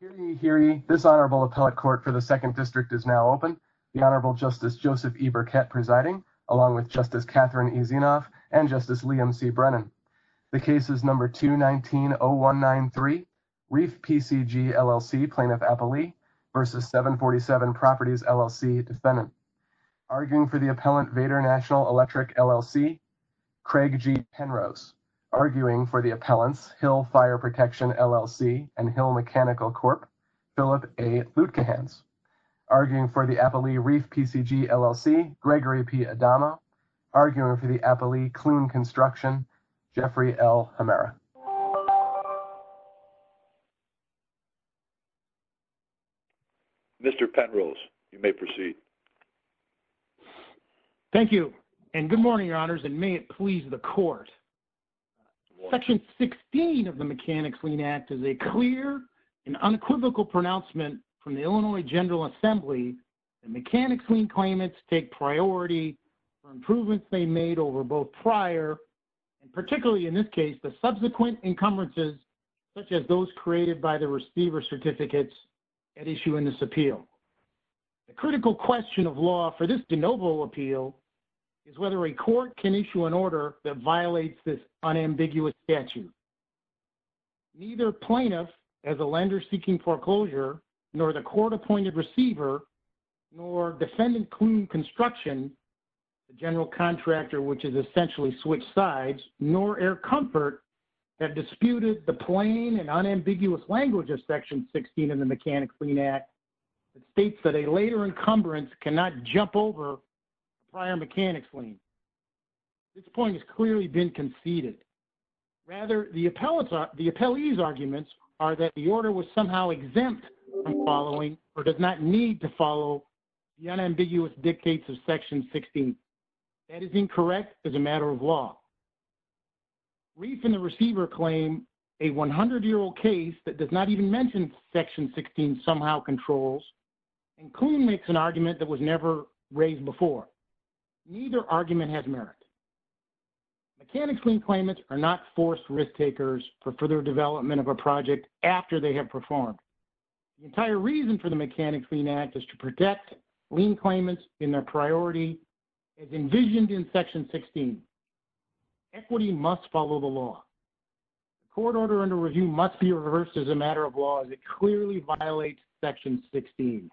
Hearing ye, hearing ye, this Honorable Appellate Court for the 2nd District is now open. The Honorable Justice Joseph E. Burkett presiding, along with Justice Catherine E. Zinoff and Justice Liam C. Brennan. The case is No. 2-19-0193, REEF-PCG, LLC, Plaintiff Appellee v. 747 Properties, LLC Defendant. Arguing for the Appellant, Vader National Electric, LLC, Craig G. Penrose. Arguing for the Appellant, Hill Fire Protection, LLC, and Hill Mechanical Corp., Philip A. Lutkohans. Arguing for the Appellee, REEF-PCG, LLC, Gregory P. Adama. Arguing for the Appellee, Kloon Construction, Jeffrey L. Hemera. Mr. Penrose, you may proceed. Thank you, and good morning, Your Honors, and may it please the Court Section 16 of the Mechanics' Lien Act is a clear and unequivocal pronouncement from the Illinois General Assembly that Mechanics' Lien claimants take priority for improvements they made over both prior, and particularly in this case, the subsequent encumbrances such as those created by the receiver certificates at issue in this appeal. The critical question of law for this de novo appeal is whether a court can issue an order that violates this unambiguous statute. Neither plaintiff, as a lender seeking foreclosure, nor the court-appointed receiver, nor defendant Kloon Construction, the general contractor which is essentially switched sides, nor Air Comfort have disputed the plain and unambiguous language of Section 16 of the Mechanics' Lien Act that states that a later encumbrance cannot jump over prior Mechanics' Lien. This point has clearly been conceded. Rather, the appellee's arguments are that the order was somehow exempt from following, or does not need to follow, the unambiguous dictates of Section 16. That is incorrect as a matter of law. Reef and the receiver claim a 100-year-old case that does not even mention Section 16 somehow controls, and Kloon makes an argument that was never raised before. Neither argument has merit. Mechanics' Lien claimants are not forced risk-takers for further development of a project after they have performed. The entire reason for the Mechanics' Lien Act is to protect lien claimants in their priority as envisioned in Section 16. Equity must follow the law. Court order under review must be reversed as a matter of law as it clearly violates Section 16.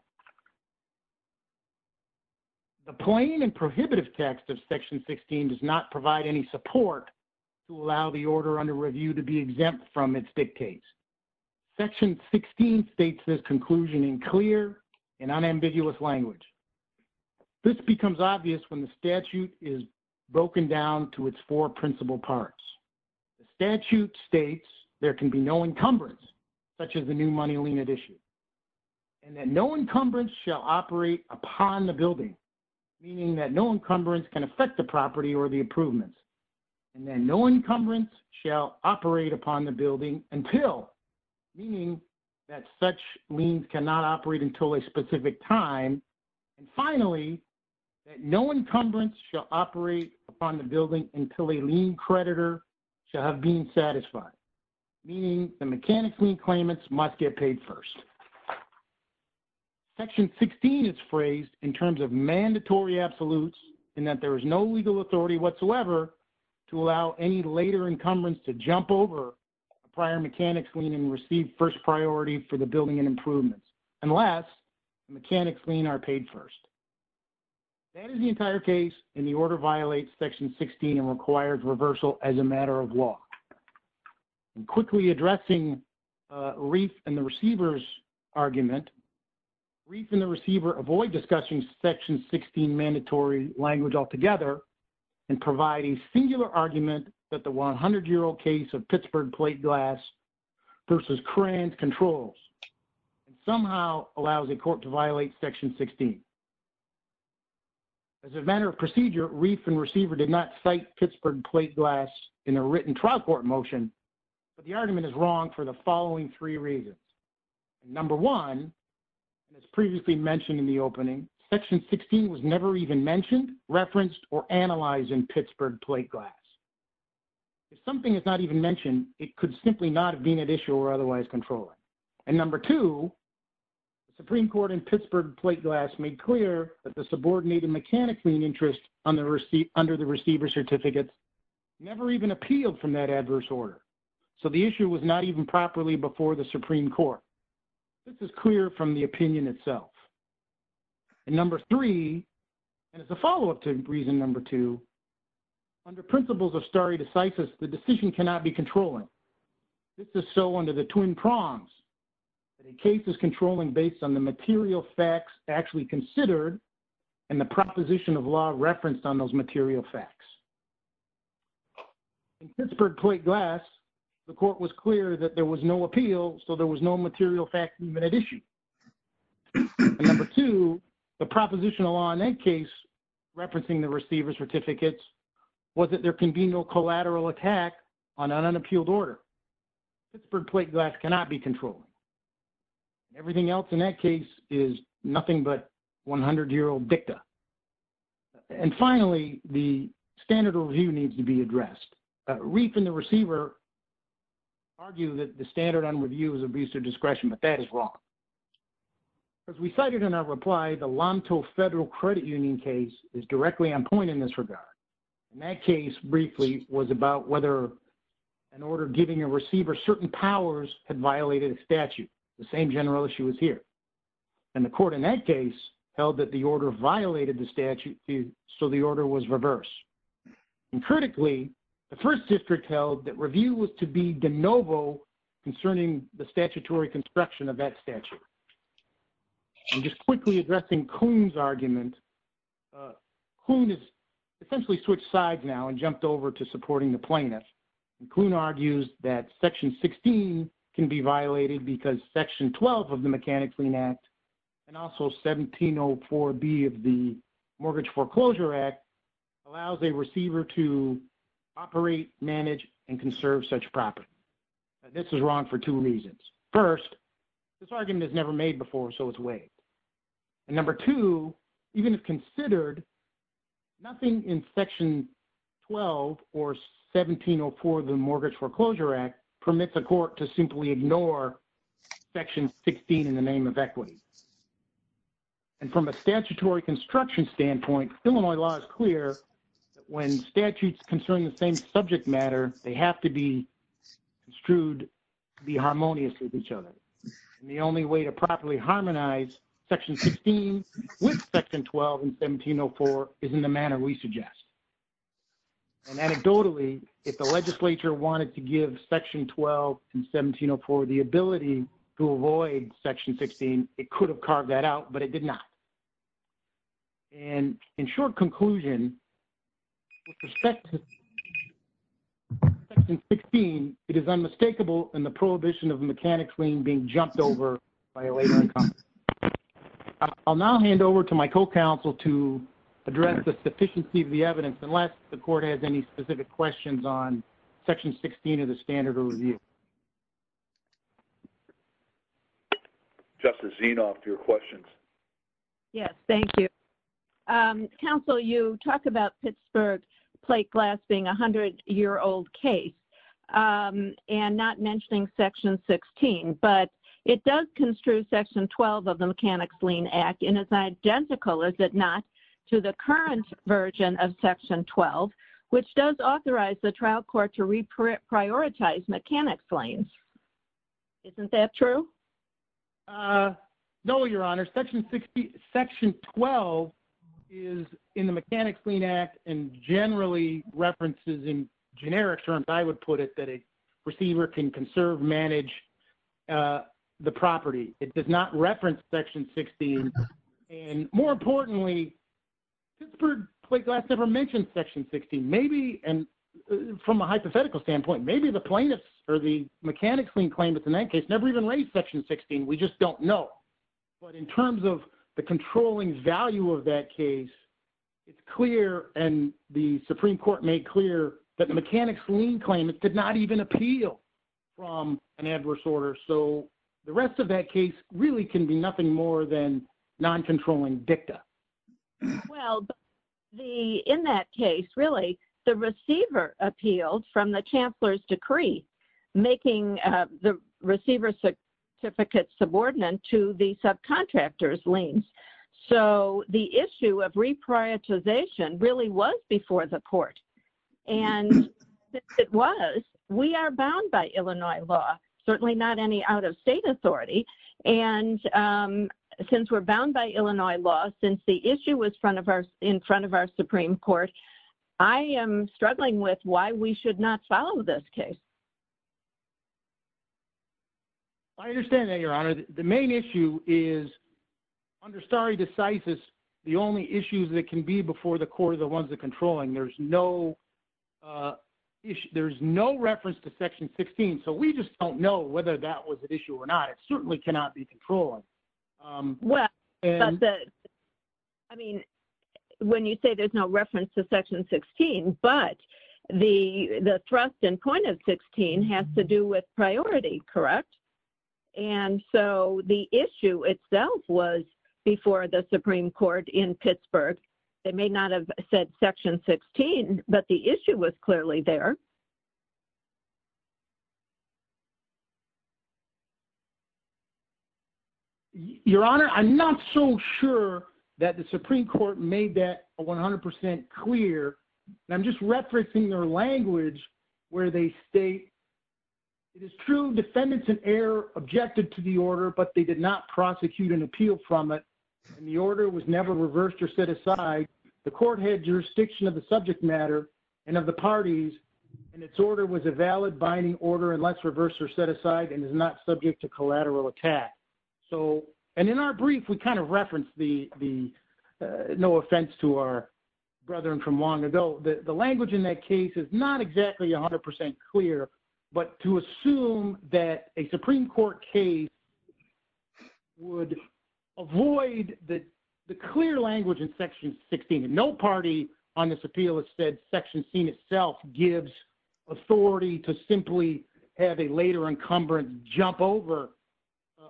The plain and prohibitive text of Section 16 does not provide any support to allow the order under review to be exempt from its dictates. Section 16 states this conclusion in clear and unambiguous language. This becomes obvious when statute is broken down to its four principal parts. The statute states there can be no encumbrance, such as a new money lien at issue, and that no encumbrance shall operate upon the building, meaning that no encumbrance can affect the property or the improvements, and that no encumbrance shall operate upon the building until, meaning that such liens cannot operate until a specific time, and finally, that no encumbrance shall operate upon the building until a lien creditor shall have been satisfied, meaning the Mechanics' Lien claimants must get paid first. Section 16 is phrased in terms of mandatory absolutes and that there is no legal authority whatsoever to allow any later encumbrance to jump over prior Mechanics' Lien and receive first priority for the building and improvements, unless Mechanics' Lien are paid first. That is the entire case and the order violates Section 16 and requires reversal as a matter of law. Quickly addressing Reef and the Receiver's argument, Reef and the Receiver avoid discussing Section 16 mandatory language altogether and provide a singular argument that the 100-year-old of Pittsburgh plate glass versus Kranz controls and somehow allows a court to violate Section 16. As a matter of procedure, Reef and Receiver did not cite Pittsburgh plate glass in a written trial court motion, but the argument is wrong for the following three reasons. Number one, as previously mentioned in the opening, Section 16 was never even mentioned, referenced, or analyzed in Pittsburgh plate glass. If something is not even mentioned, it could simply not have been at issue or otherwise controlled. And number two, the Supreme Court in Pittsburgh plate glass made clear that the subordinated Mechanics' Lien interest under the Receiver's certificate never even appealed from that adverse order, so the issue was not even properly before the Supreme Court. This is clear from the opinion itself. And number three, and as a follow-up to reason number two, under principles of stare decisis, the decision cannot be controlling. This is so under the twin prongs. The case is controlling based on the material facts actually considered and the proposition of law referenced on those material facts. In Pittsburgh plate glass, the court was clear that there was no appeal, so there was no material fact even at issue. And number two, the proposition of law in that case referencing the Receiver's certificates was that there can be no collateral attack on an unappealed order. Pittsburgh plate glass cannot be controlled. Everything else in that case is nothing but 100-year-old dicta. And finally, the standard review needs to be addressed. Reef and the Receiver argue that the standard on review is abuse of discretion, but that is wrong. As we cited in our reply, the Lonto Federal Credit Union case is directly on point in this regard. In that case, briefly, was about whether an order giving a Receiver certain powers had violated a statute, the same general issue as here. And the court in that case held that the order violated the statute, so the order was reversed. And critically, the First District held that review was to be de novo concerning the statutory construction of that property. And just quickly addressing Kuhn's argument, Kuhn has essentially switched sides now and jumped over to supporting the plaintiff. Kuhn argues that Section 16 can be violated because Section 12 of the Mechanic Clean Act and also 1704B of the Mortgage Foreclosure Act allows a Receiver to operate, manage, and conserve such property. This is wrong for two reasons. First, this argument is never made before, so it's waived. And number two, even if considered, nothing in Section 12 or 1704 of the Mortgage Foreclosure Act permits a court to simply ignore Section 16 in the name of equity. And from a statutory construction standpoint, Illinois law is clear that when statutes concerning the same subject matter, they have to be harmonious with each other. And the only way to properly harmonize Section 16 with Section 12 and 1704 is in the manner we suggest. And anecdotally, if the legislature wanted to give Section 12 and 1704 the ability to avoid Section 16, it could have carved that out, but it did not. And in the prohibition of a mechanic's lien being jumped over by a later incumbent. I'll now hand over to my co-counsel to address the sufficiency of the evidence, unless the court has any specific questions on Section 16 of the standard of review. Justice Zinoff, your questions. Yes, thank you. Counsel, you talk about Pittsburgh plate glass being a hundred-year-old case and not mentioning Section 16, but it does construe Section 12 of the Mechanic's Lien Act in as identical, is it not, to the current version of Section 12, which does authorize the trial court to reprioritize mechanic's liens. Isn't that true? No, Your Honor. Section 12 is in the Mechanic's Lien Act and generally references in generic terms, I would put it, that a receiver can conserve, manage the property. It does not reference Section 16. And more importantly, Pittsburgh plate glass never mentioned Section 16. Maybe, and from a hypothetical standpoint, maybe the plaintiffs or the mechanic's lien claimants in that case never even raised Section 16. We just don't know. But in terms of the controlling value of that case, it's clear and the Supreme Court made clear that the mechanic's lien claimant did not even appeal from an adverse order. So the rest of that case really can be nothing more than non-controlling dicta. Well, in that case, really, the receiver appealed from the Chancellor's So the issue of reprioritization really was before the court. And it was, we are bound by Illinois law, certainly not any out of state authority. And since we're bound by Illinois law, since the issue was in front of our Supreme Court, I am struggling with why we should not follow this case. I understand that, Your Honor. The main issue is under stare decisis, the only issues that can be before the court are the ones that are controlling. There's no reference to Section 16. So we just don't know whether that was an issue or not. It certainly cannot be controlling. Well, I mean, when you say there's no reference to Section 16, but the thrust and point of Section 16 has to do with priority, correct? And so the issue itself was before the Supreme Court in Pittsburgh. They may not have said Section 16, but the issue was clearly there. Your Honor, I'm not so sure that the Supreme Court made that 100% clear. I'm just referencing their language where they state, it is true defendants in error objected to the order, but they did not prosecute and appeal from it. And the order was never reversed or set aside. The court had jurisdiction of the subject matter and of the parties, and its order was a valid binding order unless reversed or set aside and is not subject to collateral attack. So, and in our brief, we kind of referenced the, no offense to our long ago, the language in that case is not exactly 100% clear, but to assume that a Supreme Court case would avoid the clear language in Section 16. No party on this appeal has said Section 16 itself gives authority to simply have a later incumbent jump over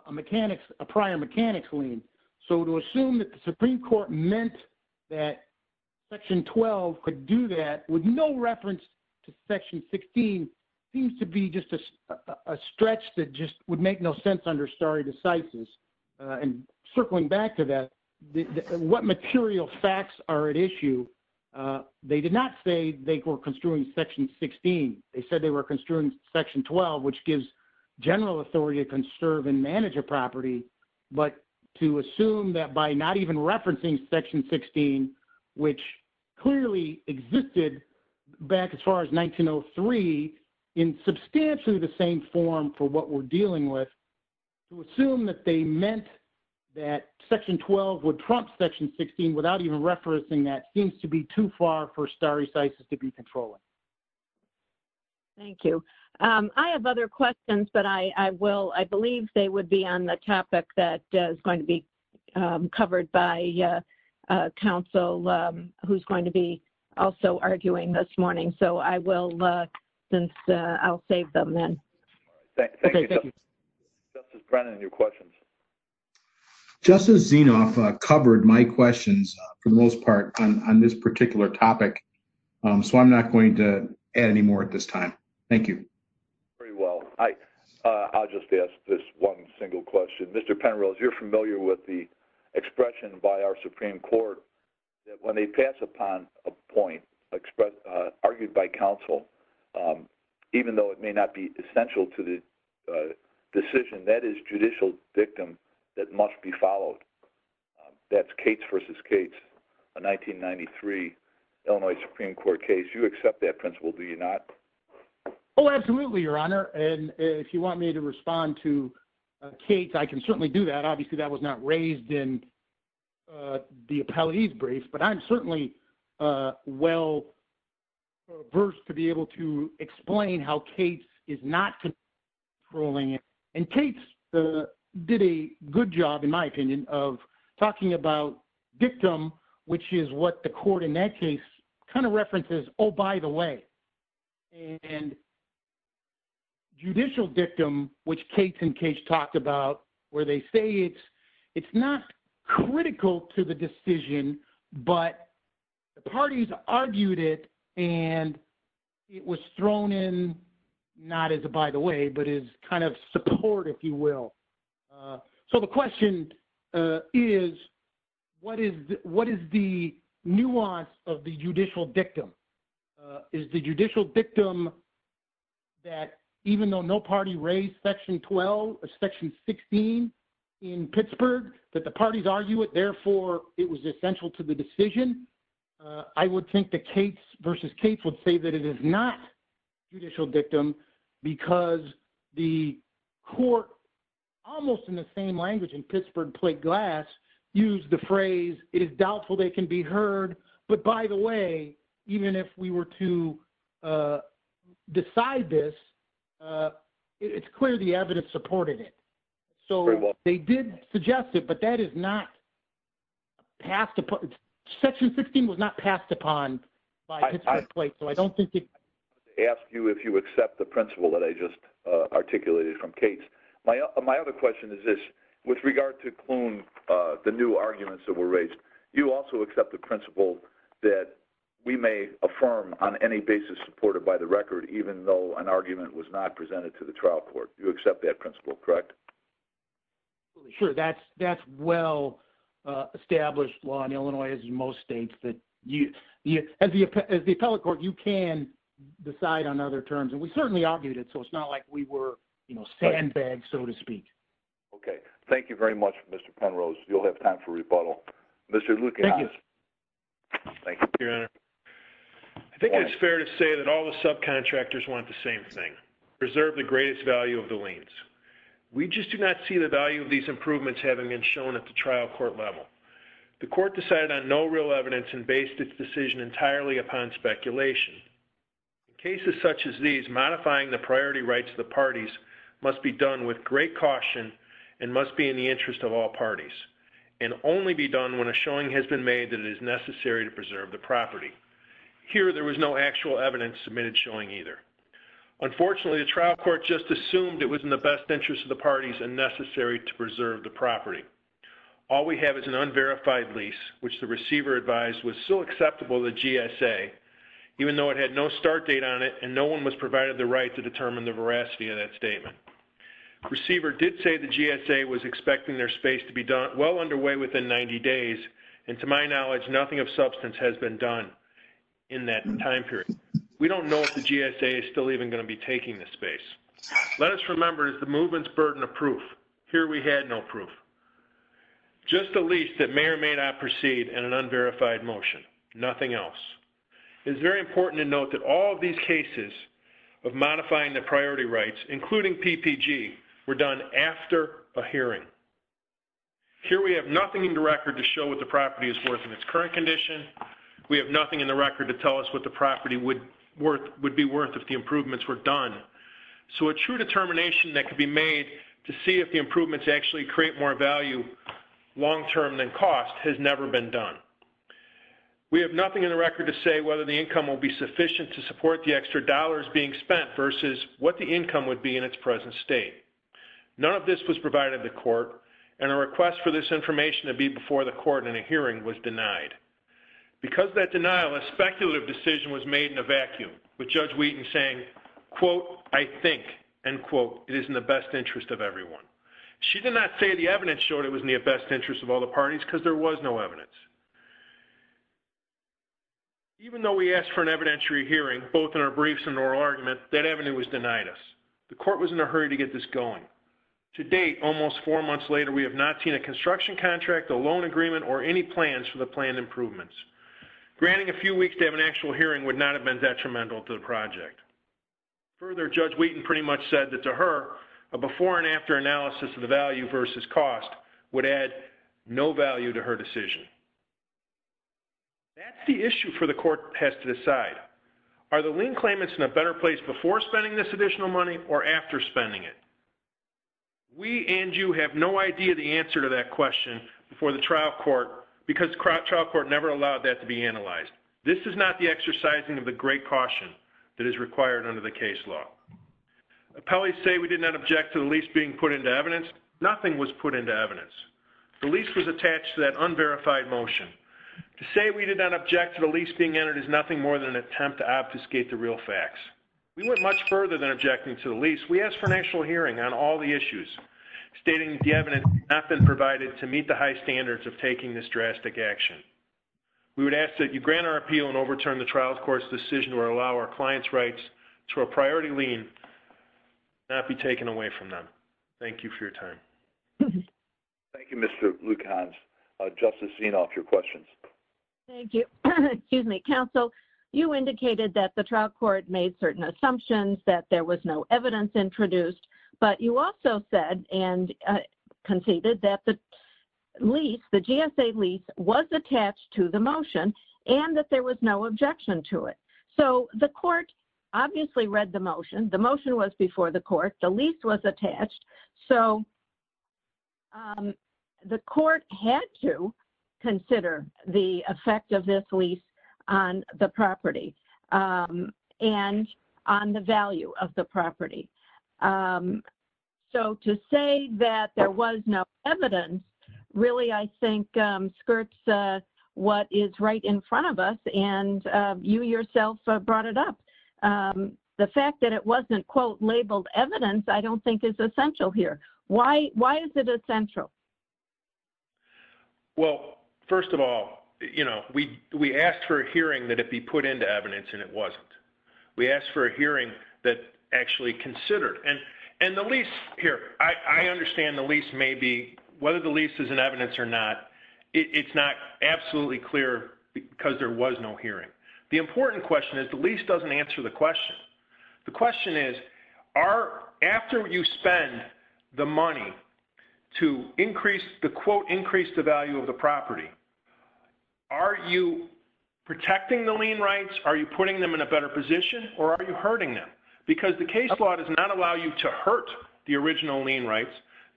a mechanics, a prior mechanics lien. So to assume that the Supreme Court meant that Section 12 could do that with no reference to Section 16 seems to be just a stretch that just would make no sense under stare decisis. And circling back to that, what material facts are at issue? They did not say they were construing Section 16. They said they were construing Section 12, which gives general authority to manage a property, but to assume that by not even referencing Section 16, which clearly existed back as far as 1903, in substantially the same form for what we're dealing with, to assume that they meant that Section 12 would trump Section 16 without even referencing that seems to be too far for stare decisis to be controlling. Thank you. I have other questions, but I will, I believe they would be on the topic that is going to be covered by counsel who's going to be also arguing this morning. So I will, since I'll save them then. Thank you. Justice Brennan, your questions. Justice Zinoff covered my questions for the most part on this particular topic. So I'm not going to add any more at this time. Thank you. Very well. I'll just ask this one single question. Mr. Penrose, you're familiar with the expression by our Supreme Court that when they pass upon a point argued by counsel, even though it may not be essential to the decision, that is judicial victim that must be followed. That's Cates v. Cates, a 1993 Illinois Supreme Court case. You accept that principle, do you not? Oh, absolutely, Your Honor. And if you want me to respond to Cates, I can certainly do that. Obviously, that was not raised in the appellatee's brief, but I'm certainly well-versed to be able to explain how Cates is not controlling it. And Cates did a good job, in my opinion, of talking about victim, which is what the court in that case kind of references, oh, by the way. And judicial victim, which Cates and Cates talked about, where they say it's not critical to the by-the-way, but it's kind of support, if you will. So the question is, what is the nuance of the judicial victim? Is the judicial victim that even though no party raised Section 12 or Section 16 in Pittsburgh, that the parties argue it, therefore, it was essential to the because the court, almost in the same language in Pittsburgh plate glass, used the phrase, it is doubtful they can be heard, but by the way, even if we were to decide this, it's clear the evidence supported it. So they did suggest it, but that is not passed upon. Section 16 was not passed upon by Pittsburgh plate, so I don't think it... Ask you if you accept the principle that I just articulated from Cates. My other question is this, with regard to Kloon, the new arguments that were raised, you also accept the principle that we may affirm on any basis supported by the record, even though an argument was not presented to the trial court. You accept that principle, correct? Sure. That's well-established law in on other terms, and we certainly argued it, so it's not like we were sandbags, so to speak. Okay. Thank you very much, Mr. Penrose. You'll have time for rebuttal. Mr. Lukianakis. Thank you, Your Honor. I think it's fair to say that all the subcontractors want the same thing, preserve the greatest value of the liens. We just do not see the value of these improvements having been shown at the trial court level. The court decided on no real evidence and based its decision entirely upon speculation. Cases such as these, modifying the priority rights of the parties must be done with great caution and must be in the interest of all parties, and only be done when a showing has been made that it is necessary to preserve the property. Here, there was no actual evidence submitted showing either. Unfortunately, the trial court just assumed it was in the best interest of the parties and necessary to preserve the property. All we have is an unverified lease, which the receiver advised was still acceptable to the GSA, even though it had no start date on it and no one was provided the right to determine the veracity of that statement. The receiver did say the GSA was expecting their space to be well underway within 90 days, and to my knowledge, nothing of substance has been done in that time period. We don't know if the GSA is still even going to be taking the space. Let us remember it is the movement's burden of proof. Here we had no proof, just a lease that may or may not proceed in an unverified motion, nothing else. It is very important to note that all of these cases of modifying the priority rights, including PPG, were done after a hearing. Here we have nothing in the record to show what the property is worth in its current condition. We have nothing in the record to tell us what the property would be worth if the improvements were done. So a true determination that could be made to see if the improvements actually create more value long-term than cost has never been done. We have nothing in the record to say whether the income will be sufficient to support the extra dollars being spent versus what the income would be in its present state. None of this was provided to court, and a request for this information to be before the court in a hearing was denied. Because of that denial, a speculative decision was made in a vacuum, with Judge Wheaton saying, quote, I think, end quote, it is in the best interest of everyone. She did not say the evidence showed it was in the best interest of all the parties, because there was no evidence. Even though we asked for an evidentiary hearing, both in our briefs and oral argument, that avenue was denied us. The court was in a hurry to get this going. To date, almost four months later, we have not seen a construction contract, a loan agreement, or any plans for the planned improvements. Granting a few weeks to have an actual hearing would not have been detrimental to the project. Further, Judge Wheaton pretty much said that to her, a before and after analysis of the value versus cost would add no value to her decision. That's the issue for the court has to decide. Are the lien claimants in a better place before spending this additional money, or after spending it? We and you have no idea the answer to that question before the trial court, because the trial court never allowed that to be analyzed. This is not the exercising of the great caution that is required under the case law. Appellees say we did not object to the lease being put into evidence. Nothing was put into evidence. The lease was attached to that unverified motion. To say we did not object to the lease being entered is nothing more than an attempt to obfuscate the real facts. We went much further than objecting to the lease. We asked for an actual hearing on all the issues, stating the evidence had not been provided to meet the high action. We would ask that you grant our appeal and overturn the trial court's decision or allow our client's rights to a priority lien not be taken away from them. Thank you for your time. Thank you, Mr. Lukasz. Justice Zinoff, your questions. Thank you. Excuse me. Counsel, you indicated that the trial court made certain assumptions, that there was no evidence introduced, but you also said and conceded that the GSA lease was attached to the motion and that there was no objection to it. So the court obviously read the motion. The motion was before the court. The lease was attached. So the court had to consider the effect of this lease on the property and on the value of the property. So to say that there was no evidence really, I think, skirts what is right in front of us, and you yourself brought it up. The fact that it wasn't, quote, labeled evidence, I don't think is essential here. Why is it essential? Well, first of all, we asked for a hearing that it be put into evidence, and it wasn't. We asked for a hearing that actually considered. And the lease here, I understand the lease may be, whether the lease is in evidence or not, it's not absolutely clear because there was no hearing. The important question is the lease doesn't answer the question. The question is, are, after you spend the money to increase, the quote, increase the value of the property, are you protecting the lien rights? Are you putting them in a better position, or are you hurting them? Because the case law does not allow you to hurt the original lien rights.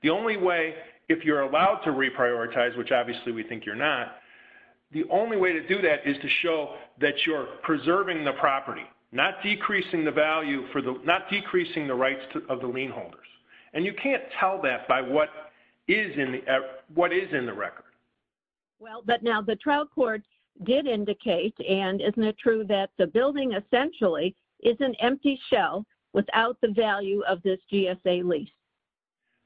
The only way, if you're allowed to reprioritize, which obviously we think you're not, the only way to do that is to show that you're preserving the property, not decreasing the value for the, not decreasing the rights of the lien holders. And you can't tell that by what is in the record. Well, but now the trial court did indicate, and isn't it true that the building essentially is an empty shell without the value of this GSA lease?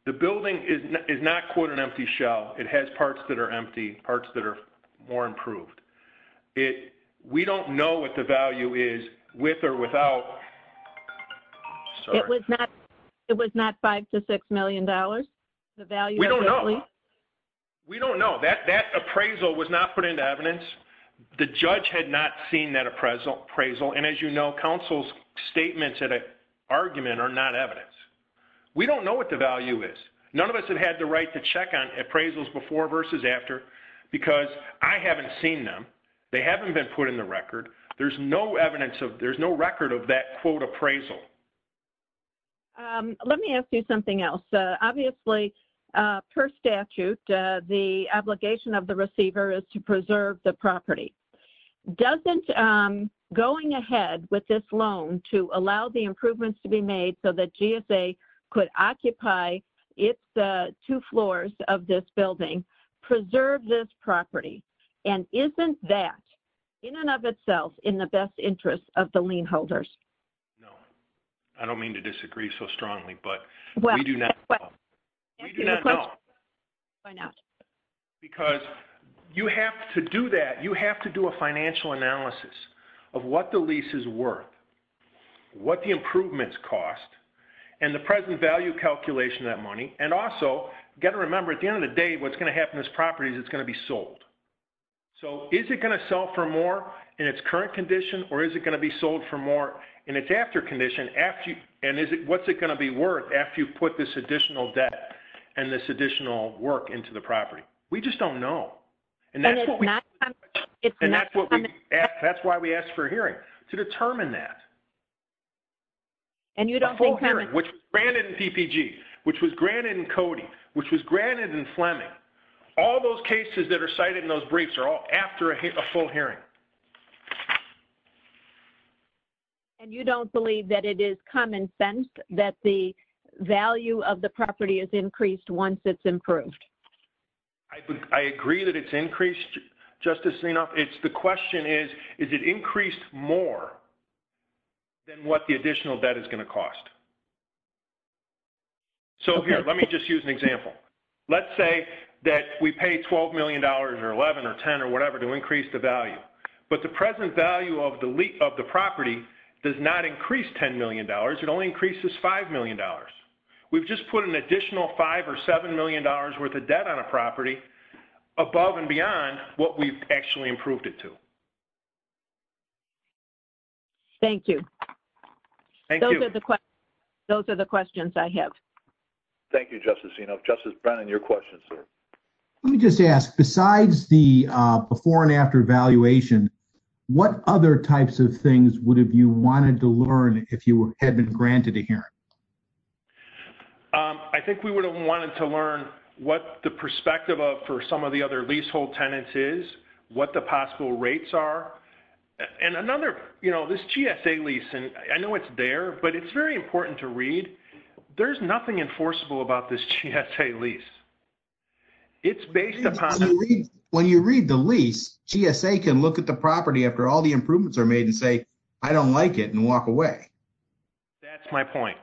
The building is not, quote, an empty shell. It has parts that are empty, parts that are more improved. We don't know what the value is with or without. Sorry. It was not $5 to $6 million, the value of the lease? We don't know. We don't know. That appraisal was not put into evidence. The judge had not seen that appraisal. And as you know, counsel's statements at an argument are not evidence. We don't know what the value is. None of us have had the right to check on appraisals before versus after, because I haven't seen them. They haven't been put in the appraisal. Let me ask you something else. Obviously, per statute, the obligation of the receiver is to preserve the property. Doesn't going ahead with this loan to allow the improvements to be made so that GSA could occupy its two floors of this building, preserve this property? And isn't that in and of itself in the best interest of the lien holders? No. I don't mean to disagree so strongly, but we do not know. Well, can I ask you a question? Why not? Because you have to do that. You have to do a financial analysis of what the lease is worth, what the improvements cost, and the present value calculation of that money. And also, got to remember, at the end of the day, what's going to happen to this property is it's going to be sold. So is it going to sell for more in its current condition, or is it going to be sold for more in its after condition? And what's it going to be worth after you put this additional debt and this additional work into the property? We just don't know. And that's why we asked for a hearing to determine that. A full hearing, which was granted in PPG, which was granted in CODI, which was granted in Fleming, all those cases that are cited in those briefs are all after a full hearing. And you don't believe that it is common sense that the value of the property is increased once it's improved? I agree that it's increased, Justice Leanoff. The question is, is it increased more than what the additional debt is going to Let's say that we pay $12 million or $11 million or $10 million or whatever to increase the value. But the present value of the property does not increase $10 million. It only increases $5 million. We've just put an additional $5 million or $7 million worth of debt on a property above and beyond what we've actually improved it to. Thank you. Those are the questions I have. Thank you, Justice Leanoff. Justice Brennan, your question, sir. Let me just ask, besides the before and after valuation, what other types of things would have you wanted to learn if you had been granted a hearing? I think we would have wanted to learn what the perspective of for some of the other leasehold tenants is, what the possible rates are. And another, this GSA lease, and I know it's there, but it's very important to read. There's nothing enforceable about this GSA lease. When you read the lease, GSA can look at the property after all the improvements are made and say, I don't like it and walk away. That's my point.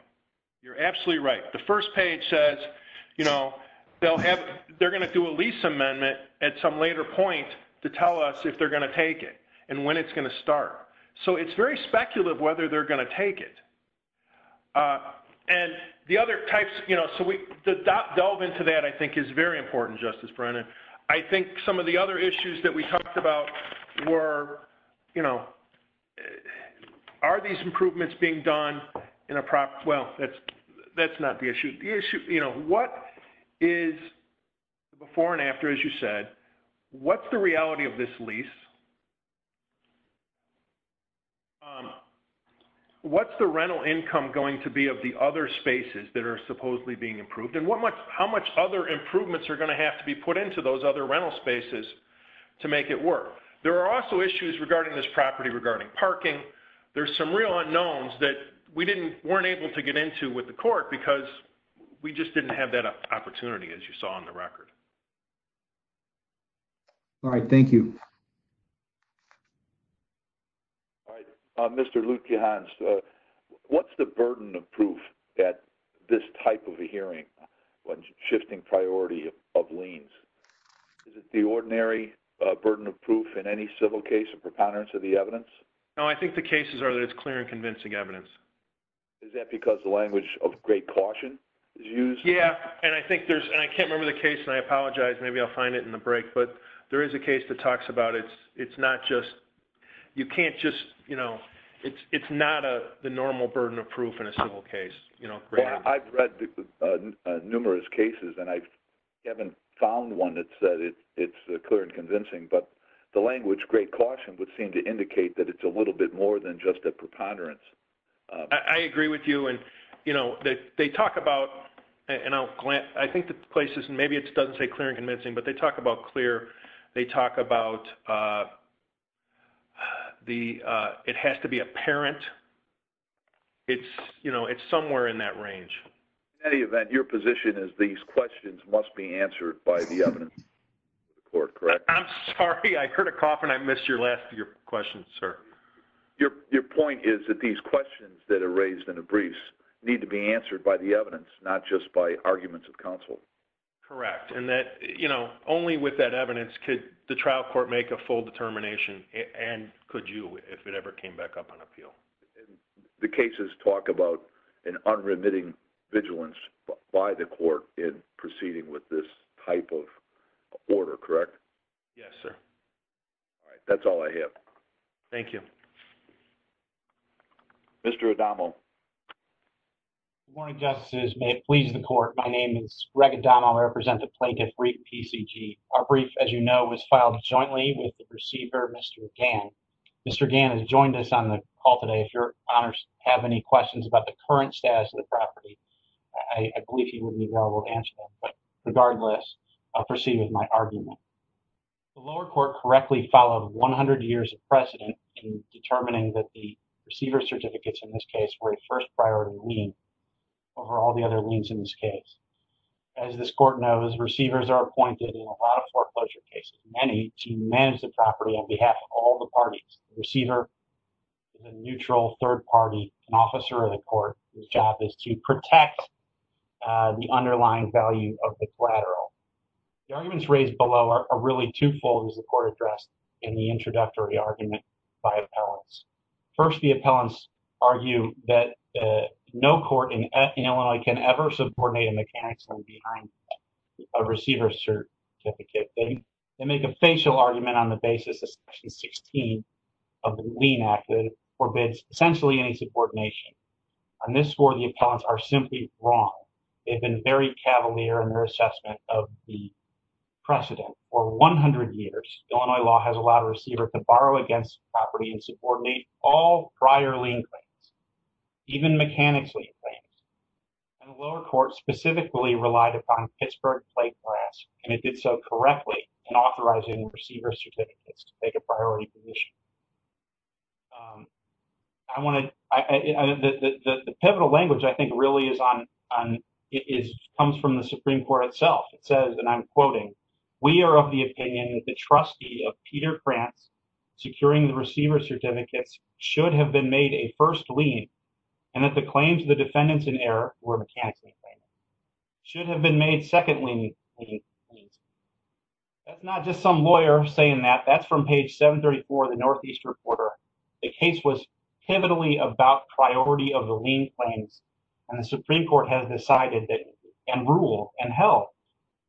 You're absolutely right. The first page says, they're going to do a lease amendment at some later point to tell us if they're going to take it and when it's going to start. So it's very speculative whether they're going to take it. And the other types, you know, so we delve into that I think is very important, Justice Brennan. I think some of the other issues that we talked about were, you know, are these improvements being done in a proper, well, that's not the issue. The issue, you know, is before and after, as you said, what's the reality of this lease? What's the rental income going to be of the other spaces that are supposedly being improved? And how much other improvements are going to have to be put into those other rental spaces to make it work? There are also issues regarding this property regarding parking. There's some real unknowns that we weren't able to get into with the court because we just didn't have that opportunity, as you saw in the record. All right, thank you. All right, Mr. Lutkehans, what's the burden of proof at this type of a hearing when shifting priority of liens? Is it the ordinary burden of proof in any civil case of preponderance of the evidence? No, I think the cases are that it's clear and convincing evidence. Is that because the language of great caution is used? Yeah, and I think there's, and I can't remember the case, and I apologize, maybe I'll find it in the break, but there is a case that talks about it's not just, you can't just, you know, it's not the normal burden of proof in a civil case. Well, I've read numerous cases, and I haven't found one that said it's clear and convincing, but the language great caution would seem to indicate that it's a little bit more than just a you know, they talk about, and I'll glance, I think the places, and maybe it doesn't say clear and convincing, but they talk about clear, they talk about the, it has to be apparent. It's, you know, it's somewhere in that range. In any event, your position is these questions must be answered by the evidence report, correct? I'm sorry, I heard a cough, and I missed your last question, sir. Your point is that these questions that are raised in the briefs need to be answered by the evidence, not just by arguments of counsel. Correct, and that, you know, only with that evidence could the trial court make a full determination, and could you, if it ever came back up on appeal. The cases talk about an unremitting vigilance by the court in proceeding with this type of order, correct? Yes, sir. All right, that's all I have. Thank you. Mr. Adamo. Good morning, justices. May it please the court, my name is Greg Adamo. I represent the Plaintiff Brief PCG. Our brief, as you know, was filed jointly with the proceeder, Mr. Gann. Mr. Gann has joined us on the call today. If your honors have any questions about the current status of the property, I believe he would be able to answer them. The lower court correctly followed 100 years of precedent in determining that the receiver certificates in this case were a first priority lien over all the other liens in this case. As this court knows, receivers are appointed in a lot of foreclosure cases, many to manage the property on behalf of all the parties. The receiver is a neutral third party, an officer of the court, whose job is to protect the underlying value of the collateral. The arguments raised below are really twofold, as the court addressed in the introductory argument by appellants. First, the appellants argue that no court in Illinois can ever subordinate a mechanic's lien behind a receiver certificate. They make a facial argument on the basis of section 16 of the lien act that forbids essentially any subordination. On this score, the appellants are simply wrong. They've been very cavalier in their assessment of the precedent. For 100 years, Illinois law has allowed a receiver to borrow against the property and subordinate all prior lien claims, even mechanic's lien claims. The lower court specifically relied upon Pittsburgh plate grass, and it did so correctly in authorizing receiver certificates to take a priority position. The pivotal language I think really comes from the Supreme Court itself. It says, and I'm quoting, we are of the opinion that the trustee of Peter France, securing the receiver certificates, should have been made a first lien, and that the claims of the defendants in error, were mechanic's lien claims, should have been made second lien claims. That's not just some lawyer saying that. That's from page 734 of the Northeast Reporter. The case was pivotally about priority of the lien claims, and the Supreme Court has decided that, and rule, and held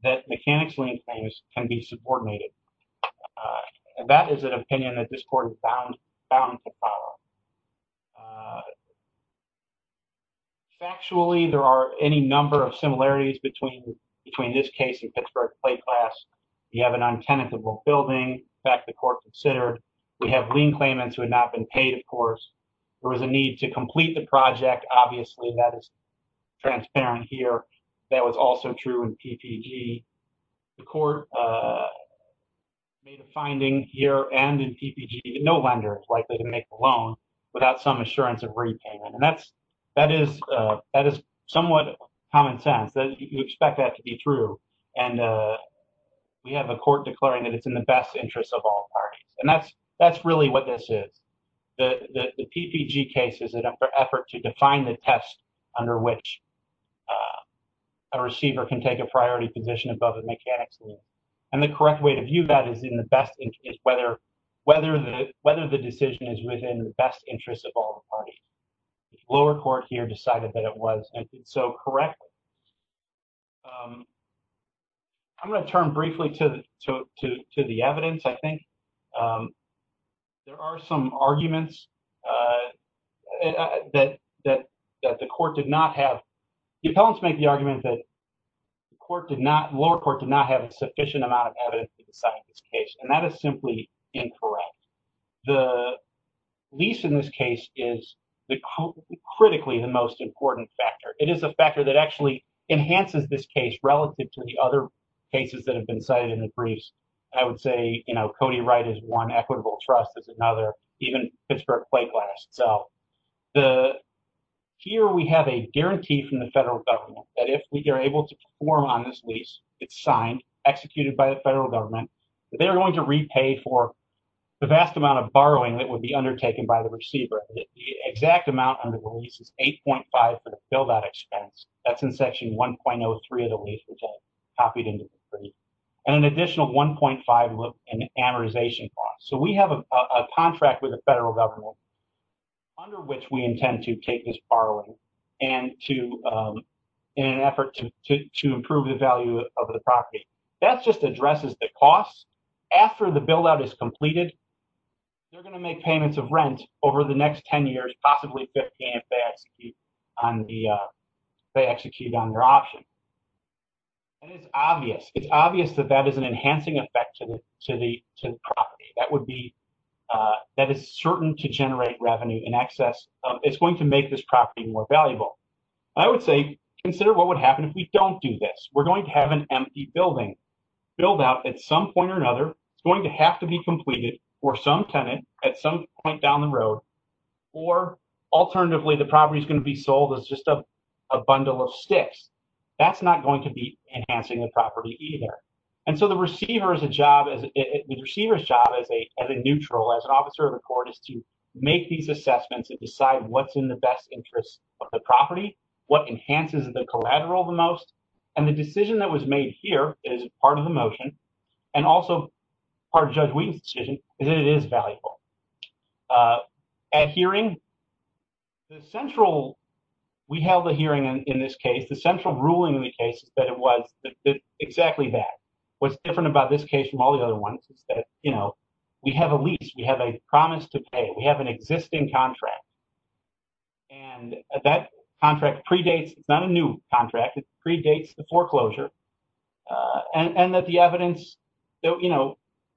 that mechanic's lien claims can be subordinated. That is an opinion that this court is bound to follow. Factually, there are any number of similarities between this case and Pittsburgh plate grass. You have an untenable building, in fact, the court considered. We have lien claimants who had not been paid, of course. There was a need to complete the project. Obviously, that is transparent here. That was also true in PPG. The court made a finding here, and in PPG, no lender is likely to make a loan without some assurance of repayment. That is somewhat common sense. You expect that to be true, and we have a court declaring that it's in the best interest of all parties. That's really what this is. The PPG case is an effort to define the test under which a receiver can take a priority position above a mechanic's lien. The correct way to view that is whether the decision is within the best interest of all parties. The lower court here decided that it was, and did so correctly. I'm going to turn briefly to the evidence, I think. There are some arguments that the court did not have. The appellants make the argument that the lower court did not have a sufficient amount of evidence to decide this case, and that is simply incorrect. The lease in this case is the critically the most important factor. It is a factor that actually enhances this case relative to the other cases that have been cited in the briefs. I would say Cody Wright is one, Equitable Trust is another, even Pittsburgh Play Glass. Here, we have a guarantee from the federal government that if we are able to perform on this lease, it's signed, executed by the federal government, that they're going to repay for the vast amount of borrowing that would be undertaken by the receiver. The exact amount on the lease is 8.5 for the build-out expense. That's in section 1.03 of the lease, which I copied into the brief, and an additional 1.5 in amortization costs. We have a contract with the federal government under which we intend to take this borrowing in an effort to improve the value of the property. That just addresses the costs. After the build-out is completed, they're going to make payments of rent over the next 10 years, possibly 15 if they execute on their option. It's obvious that that is an enhancing effect to the property. That is certain to generate revenue in excess. It's going to make this property more valuable. I would say, consider what would happen if we don't do this. We're at some point or another, it's going to have to be completed for some tenant at some point down the road. Alternatively, the property is going to be sold as just a bundle of sticks. That's not going to be enhancing the property either. The receiver's job as a neutral, as an officer of the court, is to make these assessments and decide what's in the best interest of the property, what enhances the collateral the most. The decision that was made here is part of the motion and also part of Judge Wheaton's decision is that it is valuable. At hearing, we held a hearing in this case. The central ruling in the case is that it was exactly that. What's different about this case from all the other ones is that we have a lease, we have a promise to pay, we have an existing contract. That contract predates, it's not a new contract, it predates the foreclosure.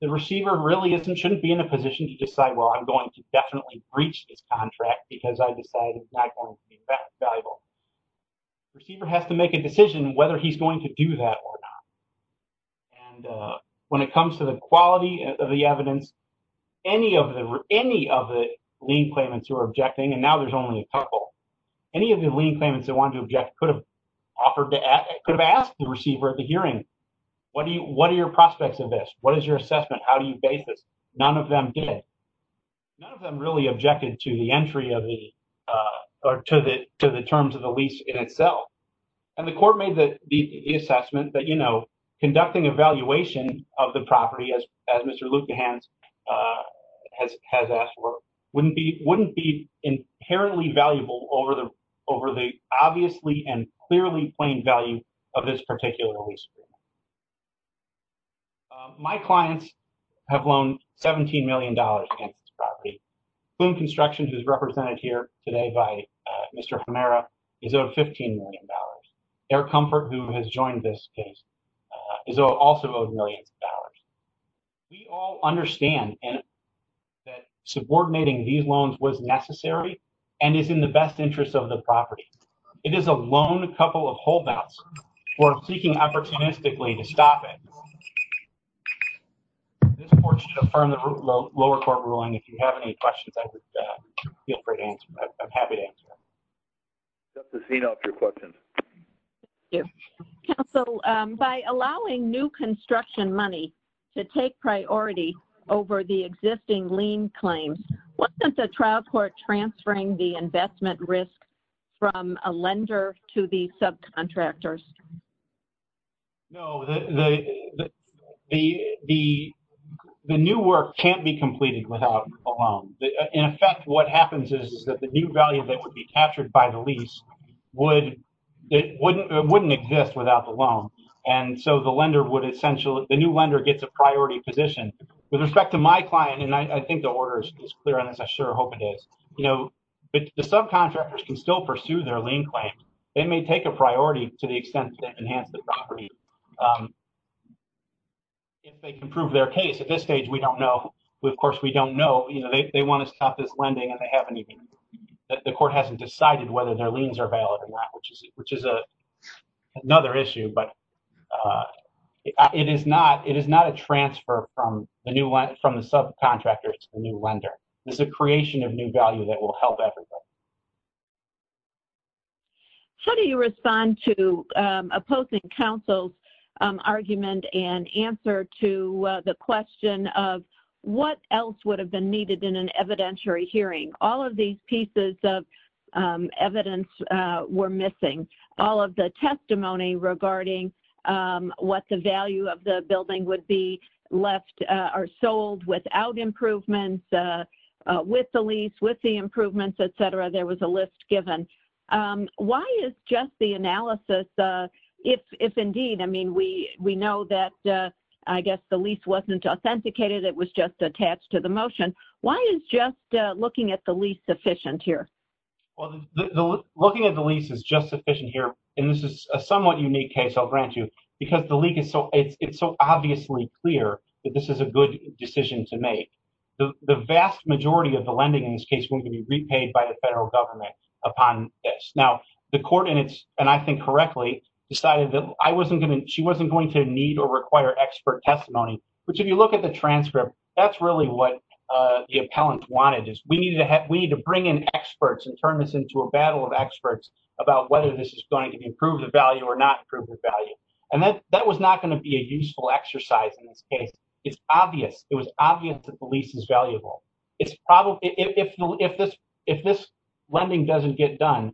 The receiver really shouldn't be in a position to decide, well, I'm going to definitely breach this contract because I decided it's not going to be that valuable. The receiver has to make a decision whether he's going to do that or not. And when it comes to the quality of the evidence, any of the lien claimants who are objecting, and now there's only a couple, any of the lien claimants that wanted to object could have asked the receiver at the hearing, what are your prospects of this? What is your assessment? How do you base this? None of them did. None of them really objected to the entry of the, or to the terms of the lease in itself. And the court made the assessment that conducting a valuation of the property, as Mr. Luebbehans has asked for, wouldn't be inherently valuable over the obviously and clearly plain value of this particular lease agreement. My clients have loaned $17 million in this property. Plume Constructions, who's represented here today by Mr. Hemera, is owed $15 million. Air Comfort, who has joined this case, is also owed millions of dollars. We all understand that subordinating these loans was necessary and is in the best interest of the property. It is a lone couple of holdouts. We're seeking opportunistically to stop it. This court should affirm the lower court ruling. If you have any questions, I would feel free to answer. I'm happy to answer. Justice Zito, if you have questions. Thank you. Counsel, by allowing new construction money to take priority over the existing lien claims, wasn't the trial court transferring the investment risk from a lender to the subcontractors? No. The new work can't be completed without a loan. In effect, what happens is that the new value that would be captured by the lease wouldn't exist without the loan. The new lender gets a priority position. With respect to my client, and I think the order is clear on this. I sure hope it is. The subcontractors can still pursue their lien claim. They may take a priority to the extent that they enhance the property. If they can prove their case, at this stage, we don't know. Of course, we don't know. They want to stop this lending and they haven't even... The court hasn't decided whether their liens are valid or not, which is another issue. It is not a transfer from the subcontractor to the new lender. It's a creation of new value that will help everyone. How do you respond to opposing counsel's argument and answer to the question of what else would have been needed in an evidentiary hearing? All of these pieces of evidence were missing. All of the testimony regarding what the value of the building would be left or sold without improvements with the lease, with the improvements, et cetera, there was a list given. Why is just the analysis, if indeed, we know that the lease wasn't authenticated, it was just attached to the motion. Why is just looking at the lease sufficient here? Looking at the lease is just sufficient here. This is a somewhat unique case, I'll grant you, because the leak is so obviously clear that this is a good decision to make. The vast majority of the lending in this case won't be repaid by the federal government upon this. Now, the court, and I think correctly, decided that she wasn't going to need or require expert testimony, which if you look at the transcript, that's really what the appellant wanted. We need to bring in experts and turn this into a battle of experts about whether this is going to be an improved value or not improved value. That was not going to be a useful exercise in this case. It's obvious. It was obvious that the lease is valuable. If this lending doesn't get done,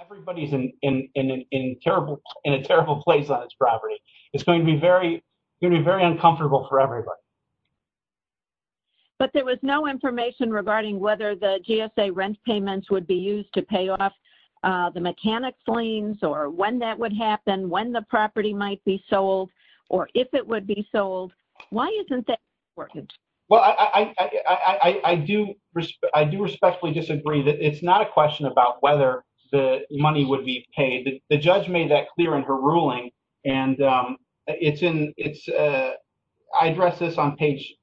everybody's in a terrible place on its property. It's going to be very uncomfortable for everybody. But there was no information regarding whether the GSA rent payments would be used to pay off the mechanic's liens, or when that would happen, when the property might be sold, or if it would be sold. Why isn't that important? Well, I do respectfully disagree. It's not a question about whether the money would be paid. The judge made that clear in her ruling. I addressed this on page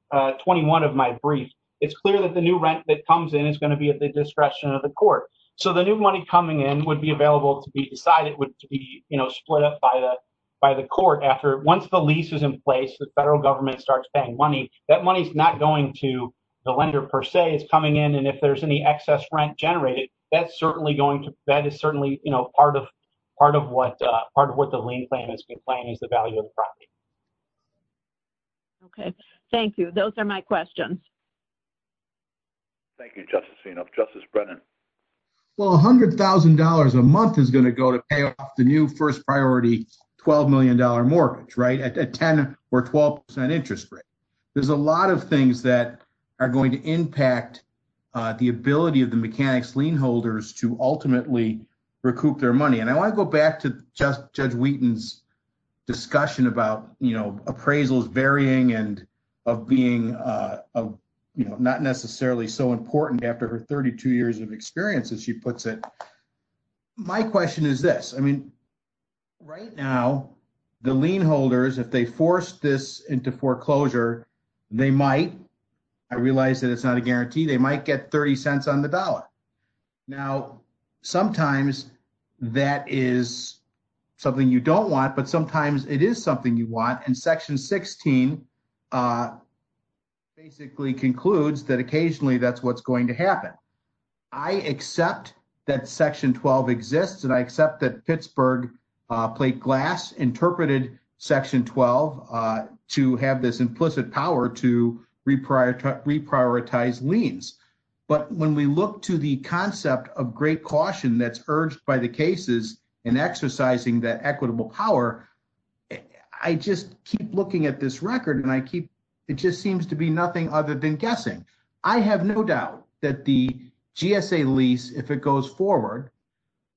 21 of my brief. It's clear that the new rent that comes in is going to be at the discretion of the court. The new money coming in would be available to be decided, would be split up by the court. Once the lease is in place, the federal government starts paying money, that money's not going to the lender per se. It's coming in, and if there's any excess rent generated, that is certainly part of what the lien claim is complaining is the value of the property. Okay. Thank you. Those are my questions. Thank you, Justice Phenol. Justice Brennan? Well, $100,000 a month is going to go to pay off the new first priority $12 million mortgage, right, at 10% or 12% interest rate. There's a lot of things that are going to impact the ability of the mechanic's lien holders to ultimately recoup their money. And I want to go back to Judge Wheaton's discussion about, you know, appraisals varying and of being, you know, not necessarily so important after her 32 years of experience, as she puts it. My question is this. I mean, right now, the lien holders, if they force this into foreclosure, they might, I realize that it's not a guarantee, they might get 30 cents on the dollar. Now, sometimes that is something you don't want, but sometimes it is something you want, and Section 16 basically concludes that occasionally that's what's going to happen. I accept that Section 12 exists, and I accept that Pittsburgh plate glass interpreted Section 12 to have this implicit power to reprioritize liens. But when we look to the concept of great caution that's urged by the cases in exercising that equitable power, I just keep looking at this record, and I keep, it just seems to be nothing other than guessing. I have no doubt that the GSA lease, if it goes forward,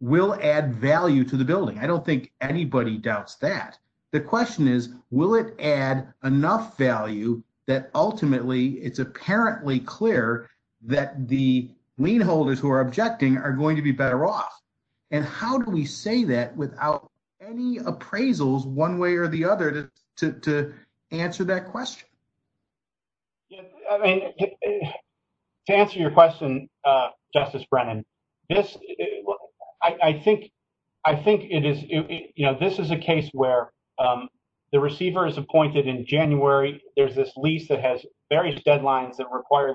will add value to the building. I don't think anybody doubts that. The question is, will it add enough value that ultimately it's apparently clear that the lien holders who are objecting are going to be better off? And how do we say that without any appraisals one way or the other to answer that question? To answer your question, Justice Brennan, this, I think it is, you know, this is a case where the receiver is appointed in January. There's this lease that has various deadlines that require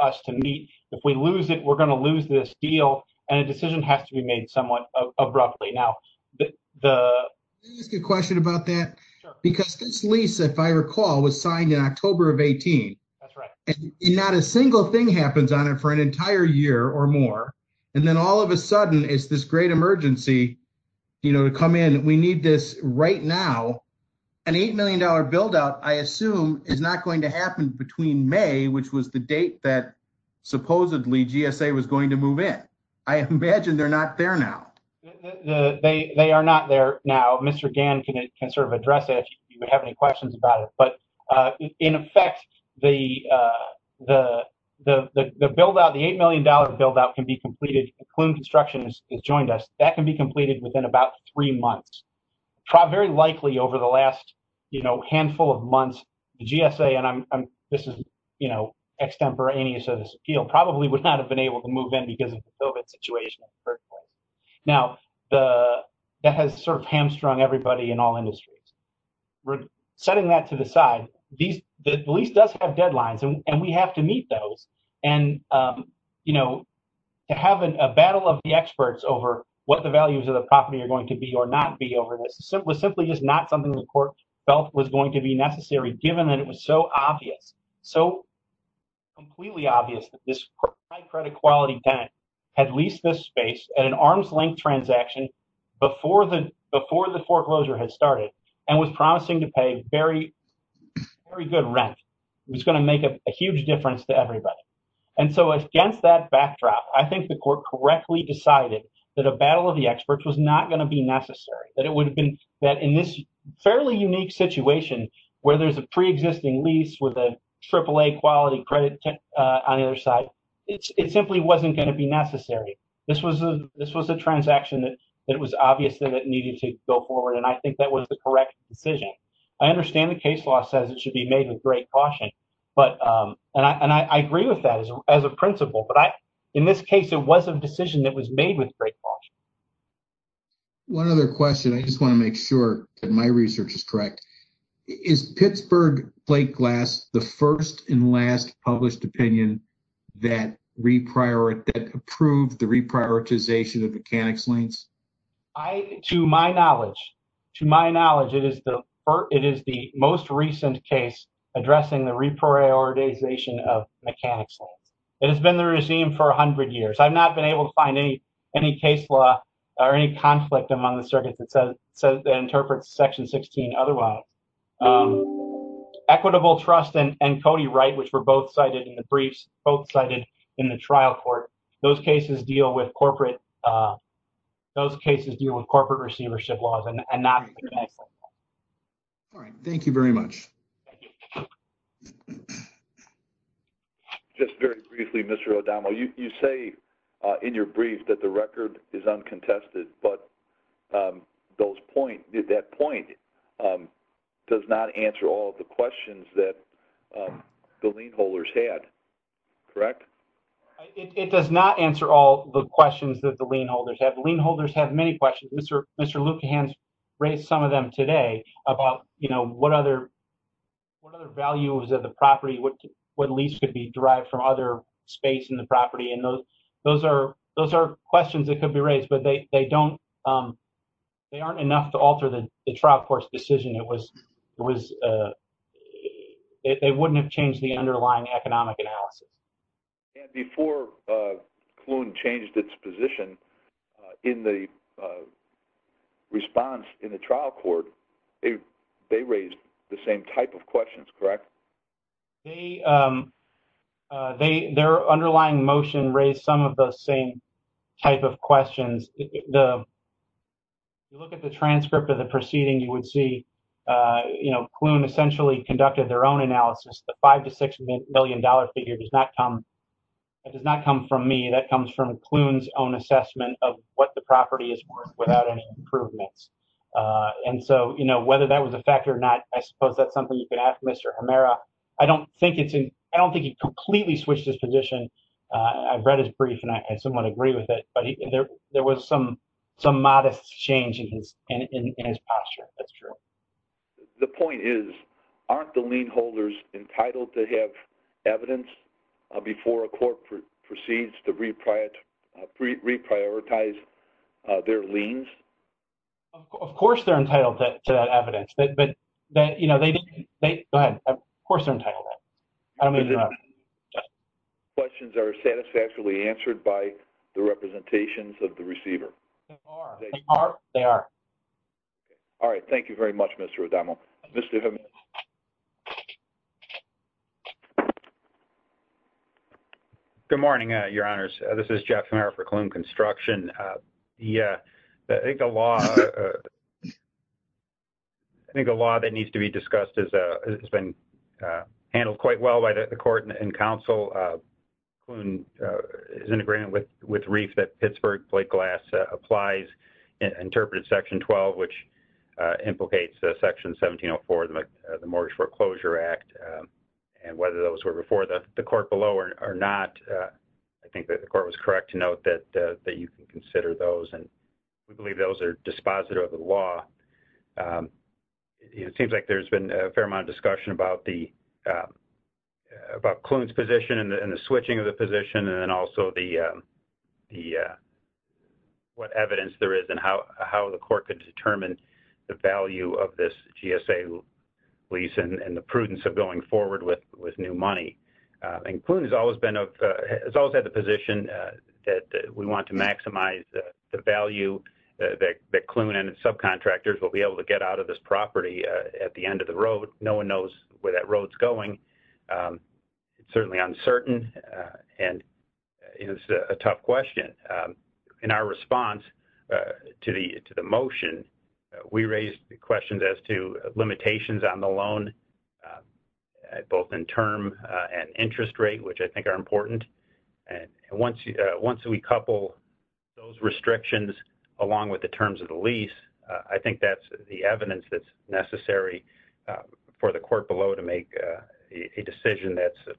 us to meet. If we lose it, we're going to lose this deal, and a decision has to be made somewhat abruptly. Now, the... Can I ask a question about that? Sure. Because this lease, if I recall, was signed in October of 18. That's right. And not a single thing happens on it for an entire year or more, and then all of a sudden it's this great emergency, you know, to come in. We need this right now. An $8 million buildout, I assume, is not going to happen between May, which was the date that supposedly GSA was going to move in. I imagine they're not there now. They are not there now. Mr. Gann can sort of address it if you have any questions about it. But in effect, the buildout, the $8 million buildout can be completed, McLoone Construction has joined us, that can be completed within about three months. Very likely over the last, you know, handful of months, the GSA, and I'm... This is, you know, extemporaneous of this appeal, probably would not have been able to move in because of the COVID situation, at first. Now, that has sort of hamstrung everybody in all industries. We're setting that to the side. The lease does have deadlines, and we have to meet those. And, you know, to have a battle of the experts over what the values of the property are going to be or not be over this was simply just not something the court felt was going to be necessary, given that it was so obvious, so completely obvious that this high credit quality tenant had leased this space at an arm's length transaction before the foreclosure had started, and was promising to pay very, very good rent. It was going to make a huge difference to everybody. And so against that backdrop, I think the court correctly decided that a battle of the experts was not going to be necessary, that it would have been that in this fairly unique situation, where there's a pre-existing lease with a AAA quality credit on either side, it simply wasn't going to be necessary. This was a transaction that it was obvious that it needed to go forward, and I think that was the correct decision. I understand the case law says it should be made with great caution, and I agree with that as a principle, but in this case, it was a decision that was made with great caution. One other question. I just want to make sure that my research is correct. Is Pittsburgh Plate Glass the first and last published opinion that approved the reprioritization of mechanics liens? To my knowledge, it is the most recent case addressing the reprioritization of mechanics liens. It has been the regime for 100 years. I've not been able to find any case law or any conflict among the circuits that interprets Section 16 otherwise. Equitable Trust and Cody Wright, which were both cited in the briefs, both cited in the trial court, those cases deal with corporate receivership laws and not mechanics. All right. Thank you very much. Just very briefly, Mr. O'Donnell, you say in your brief that the record is uncontested, but that point does not answer all of the questions that the lien holders had, correct? It does not answer all the questions that the lien holders have. The lien holders have many questions. Mr. Lukerhan raised some of them today about what other values of the property, what lease could be derived from other space in the property. Those are questions that could be raised, but they aren't enough to alter the trial court's decision. They wouldn't have changed the decision. Before Kloon changed its position in the response in the trial court, they raised the same type of questions, correct? Their underlying motion raised some of the same type of questions. If you look at the transcript of the proceeding, you would see Kloon essentially conducted their own analysis. The $5 to $6 million figure does not come from me. That comes from Kloon's own assessment of what the property is worth without any improvements. Whether that was a factor or not, I suppose that's something you can ask Mr. Hemera. I don't think he completely switched his position. I've read his brief and I somewhat agree with it, but there was some modest change in his posture. That's true. The point is, aren't the lien holders entitled to have evidence before a court proceeds to reprioritize their liens? Of course, they're entitled to that evidence. Of course, they're entitled to that. Questions are satisfactorily answered by the representations of the receiver. They are. All right. Thank you very much, Mr. O'Donnell. Mr. Hemera. Good morning, your honors. This is Jeff Hemera for Kloon Construction. I think the law that needs to be discussed has been handled quite well by the court and counsel. Kloon is in agreement with Reif that Pittsburgh plate glass applies and interprets Section 12, which implicates Section 1704 of the Mortgage Foreclosure Act. Whether those were before the court below or not, I think that the court was correct to note that you can consider those. We believe those are dispositive of the law. It seems like there's been a fair amount of discussion about Kloon's position and the switching of the position and also what evidence there is and how the court could determine the value of this GSA lease and the prudence of going forward with new money. Kloon has always had the position that we want to maximize the value that Kloon and its subcontractors will be able to get out of this going. It's certainly uncertain and it's a tough question. In our response to the motion, we raised questions as to limitations on the loan, both in term and interest rate, which I think are important. Once we couple those restrictions along with the terms of the lease, I think that's the decision that's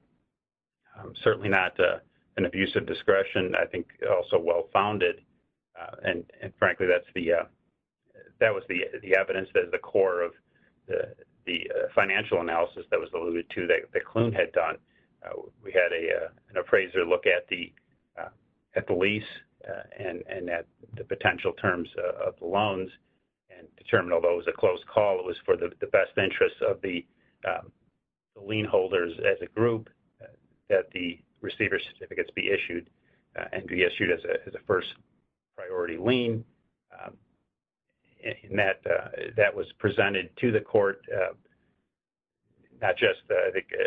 certainly not an abuse of discretion. I think also well-founded. Frankly, that was the evidence that is the core of the financial analysis that was alluded to that Kloon had done. We had an appraiser look at the lease and at the potential terms of the loans and determined, although it was a close call, it was for the best interest of the lien holders as a group that the receiver certificates be issued and be issued as a first priority lien. That was presented to the court not just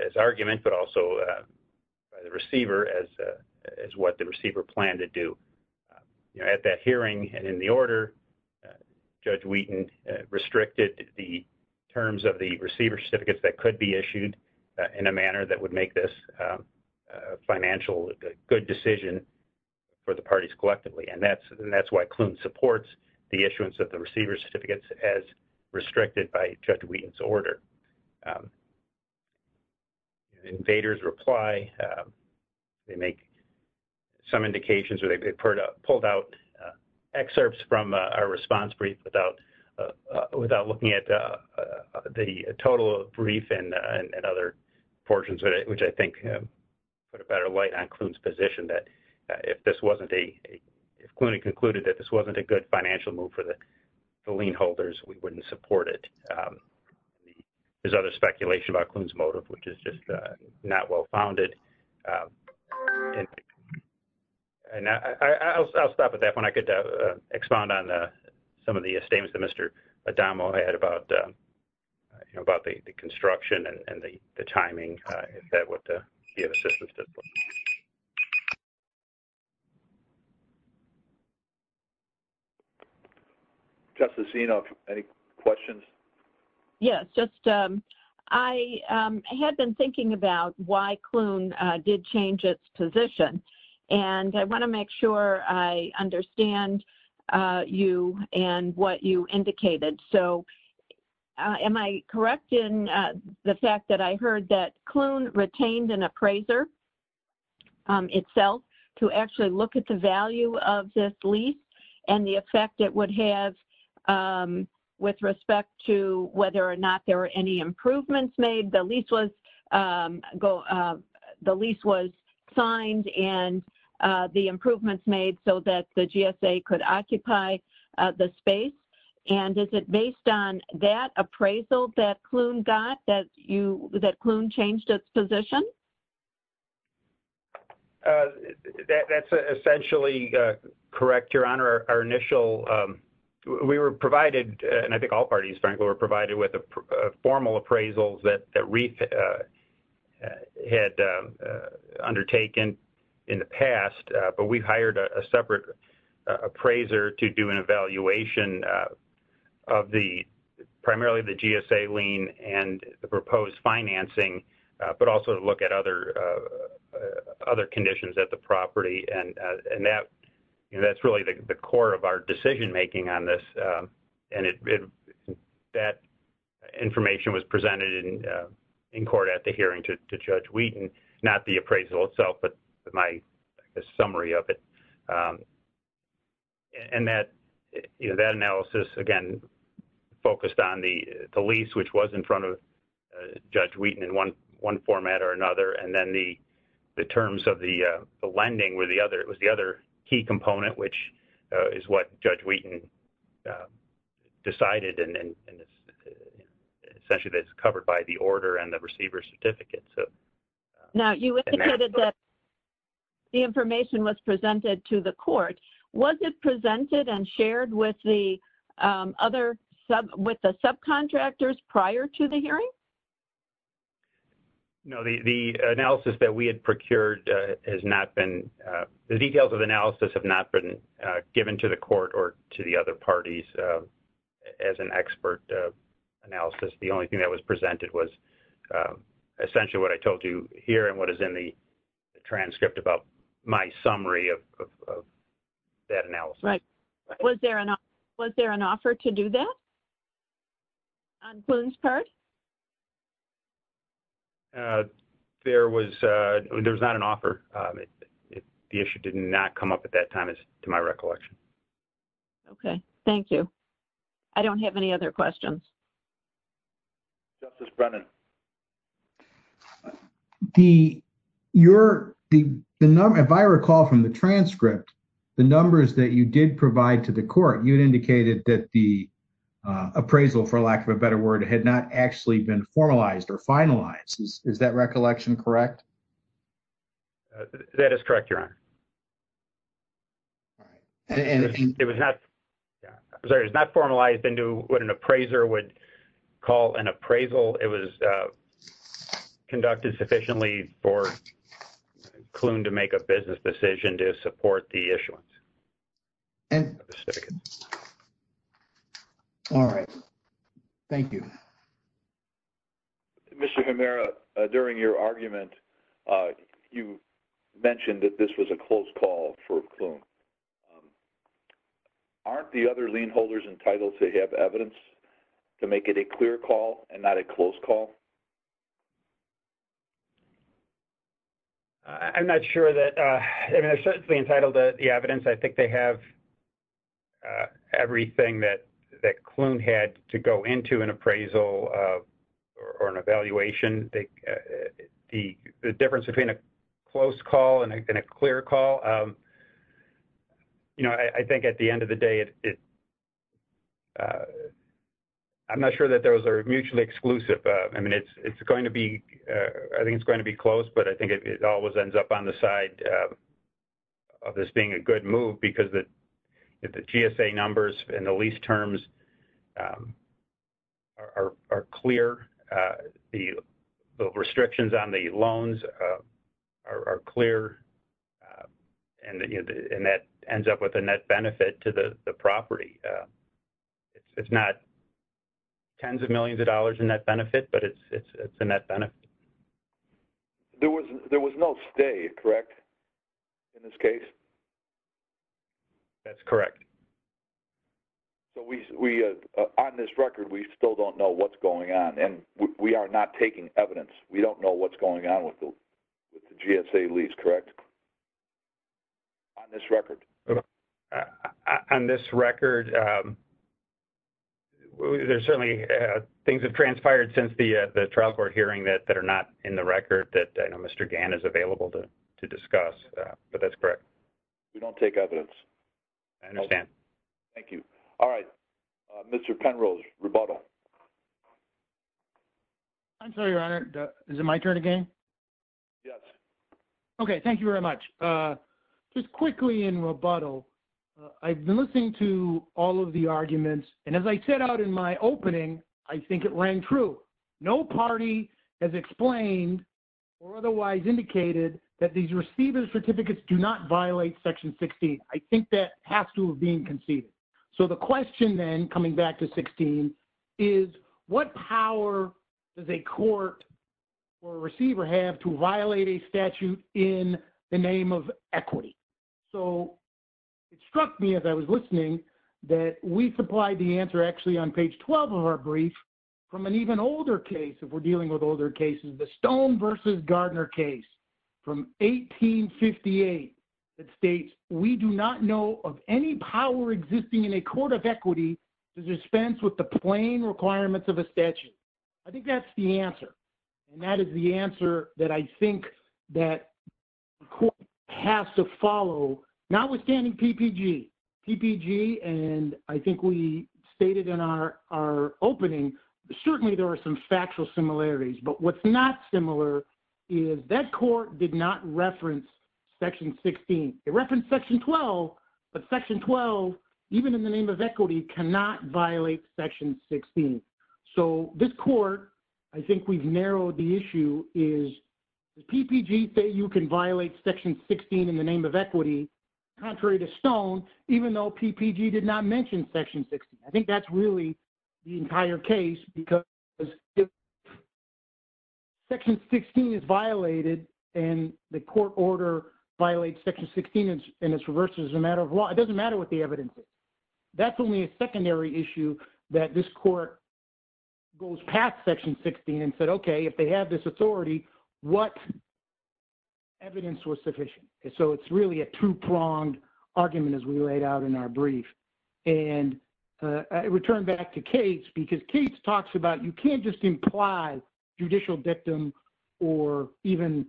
as argument but also by the receiver as what the receiver planned to do. At that hearing and in the order, Judge Wheaton restricted the terms of the receiver certificates that could be issued in a manner that would make this financial good decision for the parties collectively. That's why Kloon supports the issuance of the receiver certificates as restricted by Judge Wheaton's without looking at the total brief and other portions, which I think put a better light on Kloon's position that if Kloon had concluded that this wasn't a good financial move for the lien holders, we wouldn't support it. There's other speculation about Kloon's motive, which is not well-founded. I'll stop at that point. I could expound on some of the statements that Mr. Adamo had about the construction and the timing, if that would be of assistance. Justice Eno, any questions? Yes. I had been thinking about why Kloon did change its position. I want to make sure I understand you and what you indicated. Am I correct in the fact that I heard Kloon retained an appraiser itself to actually look at the value of this lease and the effect it would have with respect to whether or not there were any improvements made? The lease was signed and the improvements made so that the GSA could occupy the space. Is it based on that appraisal that Kloon got, that Kloon changed its position? That's essentially correct, Your Honor. We were provided, and I think all parties, frankly, were provided with formal appraisals that REIF had undertaken in the past, but we hired a separate appraiser to do an evaluation of primarily the GSA lien and the proposed financing, but also to look at other conditions at the property. That's really the core of our decision-making on this. That information was presented in court at the summary of it. That analysis, again, focused on the lease, which was in front of Judge Wheaton in one format or another, and then the terms of the lending was the other key component, which is what Judge Wheaton decided. Essentially, that's covered by the order and the receiver's certificates. Now, you indicated that the information was presented to the court. Was it presented and shared with the subcontractors prior to the hearing? No. The analysis that we had procured has not been... The details of the analysis have not been given to the court or to the other parties as an expert analysis. The only thing that was presented was essentially what I told you here and what is in the transcript about my summary of that analysis. Right. Was there an offer to do that on Boone's part? There was not an offer. The issue did not come up at that time, to my recollection. Okay. Thank you. I don't have any other questions. Justice Brennan. If I recall from the transcript, the numbers that you did provide to the court, you had indicated that the appraisal, for lack of a better word, had not actually been formalized or finalized. Is that recollection correct? That is correct, Your Honor. All right. It was not formalized into what an appraiser would call an appraisal. It was conducted sufficiently for Kloon to make a business decision to support the issuance. All right. Thank you. Mr. Hemera, during your argument, you mentioned that this was a close call for Kloon. Aren't the other lien holders entitled to have evidence to make it a clear call and not a close call? I'm not sure. They're certainly entitled to the evidence. I think they have everything that Kloon had to go into an appraisal or an evaluation. The difference between a close call and a clear call, I think at the end of the day, I'm not sure that those are mutually exclusive. I mean, I think it's going to be close, but I think it always ends up on the side of this being a good move because the GSA numbers and the lease terms are clear. The restrictions on the loans are clear, and that ends up with a net benefit to the property. It's not tens of millions of dollars net benefit, but it's a net benefit. There was no stay, correct, in this case? That's correct. So, on this record, we still don't know what's going on, and we are not taking evidence. We don't know what's going on with the GSA lease, correct, on this record? Correct. On this record, there's certainly things have transpired since the trial court hearing that are not in the record that I know Mr. Gann is available to discuss, but that's correct. We don't take evidence. I understand. Thank you. All right. Mr. Penrose, rebuttal. I'm sorry, Your Honor. Is it my turn again? Yes. Okay. Thank you very much. Just quickly in rebuttal, I've been listening to all of the arguments, and as I said out in my opening, I think it rang true. No party has explained or otherwise indicated that these receiver certificates do not violate Section 16. I think that has to have been conceded. So, the question then, coming back to 16, is what power does a court or a receiver have to violate a statute in the name of equity? So, it struck me as I was listening that we supplied the answer, actually, on page 12 of our brief from an even older case, if we're dealing with older cases, the Stone v. Gardner case from 1858 that states, we do not know of any power existing in a court of equity to dispense with the plain requirements of a statute. I think that's the answer, and that is the answer that I think that the court has to follow, notwithstanding PPG. PPG, and I think we stated in our opening, certainly, there are some factual similarities, but what's not similar is that court did not reference Section 16. It referenced Section 12, but Section 12, even in the name of equity, cannot violate Section 16. So, this court, I think we've narrowed the issue, is PPG say you can violate Section 16 in the name of equity, contrary to Stone, even though PPG did not mention Section 16. I think that's really the entire case, because if Section 16 is violated and the court order violates Section 16 and it's reversed as a matter of law, it doesn't matter what the evidence is. That's only a secondary issue that this court goes past Section 16 and said, okay, if they have this authority, what evidence was sufficient? So, it's really a two-pronged argument, as we laid out in our brief, and I return back to Cates, because Cates talks about, you can't just imply judicial dictum or even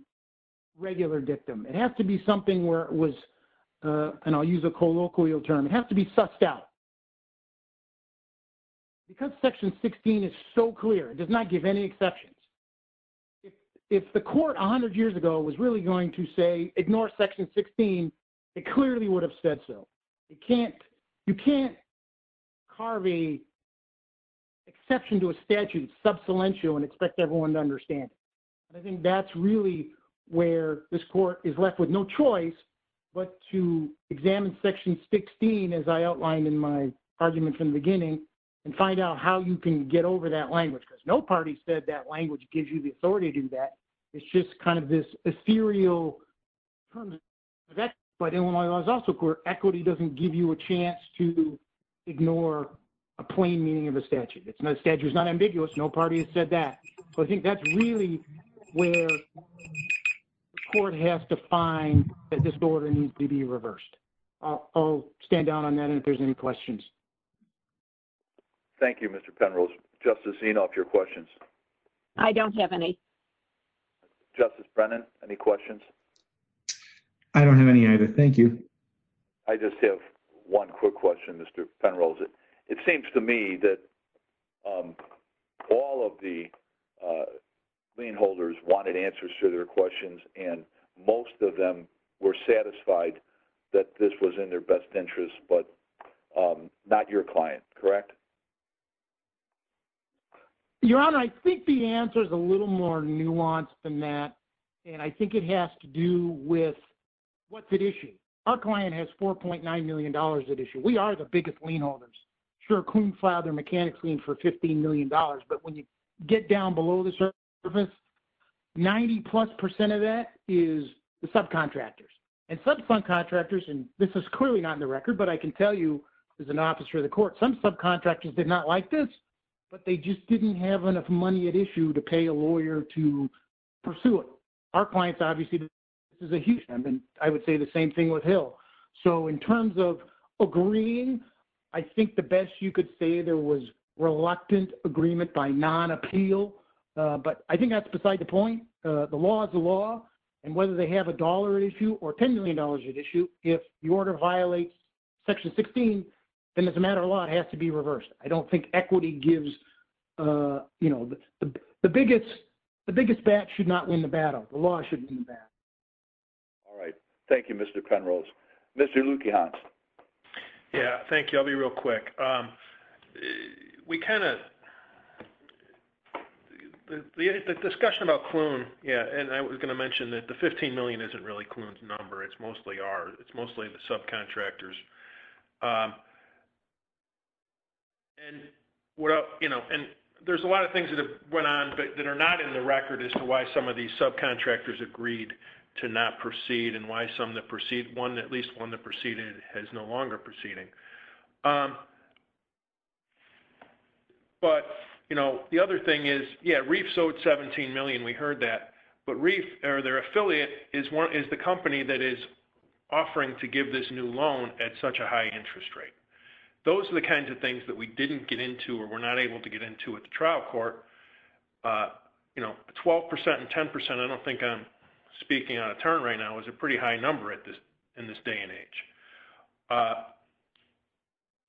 regular dictum. It has to be something where it was, and I'll use a colloquial term, it has to be sussed out. Because Section 16 is so clear, it does not give any exceptions. If the court 100 years ago was really going to say, ignore Section 16, it clearly would have said so. You can't carve an exception to a statute, sub salientio, and expect everyone to understand. And I think that's really where this court is left with no choice but to examine Section 16, as I outlined in my argument from the beginning, and find out how you can get over that language, because no party said that language gives you the authority to do that. It's just kind of this ethereal, but Illinois Laws also, equity doesn't give you a chance to ignore a plain meaning of statute. Statute is not ambiguous, no party has said that. So I think that's really where court has to find that this order needs to be reversed. I'll stand down on that, and if there's any questions. Thank you, Mr. Penrose. Justice Enoff, your questions? I don't have any. Justice Brennan, any questions? I don't have any either, thank you. I just have one quick question, Mr. Penrose. It seems to me that all of the lien holders wanted answers to their questions, and most of them were satisfied that this was in their best interest, but not your client, correct? Your Honor, I think the answer is a little more nuanced than that, and I think it has to do with what's at issue. Our client has $4.9 million at issue. We are the biggest lien holders. Sure, Coonflau, their mechanics lien for $15 million, but when you get down below the surface, 90 plus percent of that is the subcontractors, and subcontractors, and this is clearly not in the record, but I can tell you as an officer of the court, some subcontractors did not like this, but they just didn't have enough money at issue to pay a lawyer to pursue it. Our clients obviously, this is a huge number, and I would say the same thing with Hill. So in terms of agreeing, I think the best you could say there was reluctant agreement by non-appeal, but I think that's beside the point. The law is the law, and whether they have a dollar at issue or $10 million at issue, if the order violates Section 16, then as a matter of law, it has to be reversed. I don't think equity gives, you know, the biggest bat should not win the battle. The law should win the battle. All right. Thank you, Mr. Penrose. Mr. Luekehans. Yeah, thank you. I'll be real quick. We kind of, the discussion about Cloon, yeah, and I was going to mention that the $15 million isn't really Cloon's number. It's mostly ours. It's mostly the subcontractors. And, you know, and there's a lot of things that have went on that are not in the record as to why some of these subcontractors agreed to not proceed and why some that proceed, one, at least one that proceeded has no longer proceeding. But, you know, the other thing is, yeah, Reefs owed $17 million. We heard that. But Reef, or their affiliate, is the company that is offering to give this new loan at such a high interest rate. Those are the kinds of things that we didn't get into or were not able to get into at the trial court. You know, 12% and 10%, I don't think I'm speaking on a turn right now, is a pretty high number in this day and age.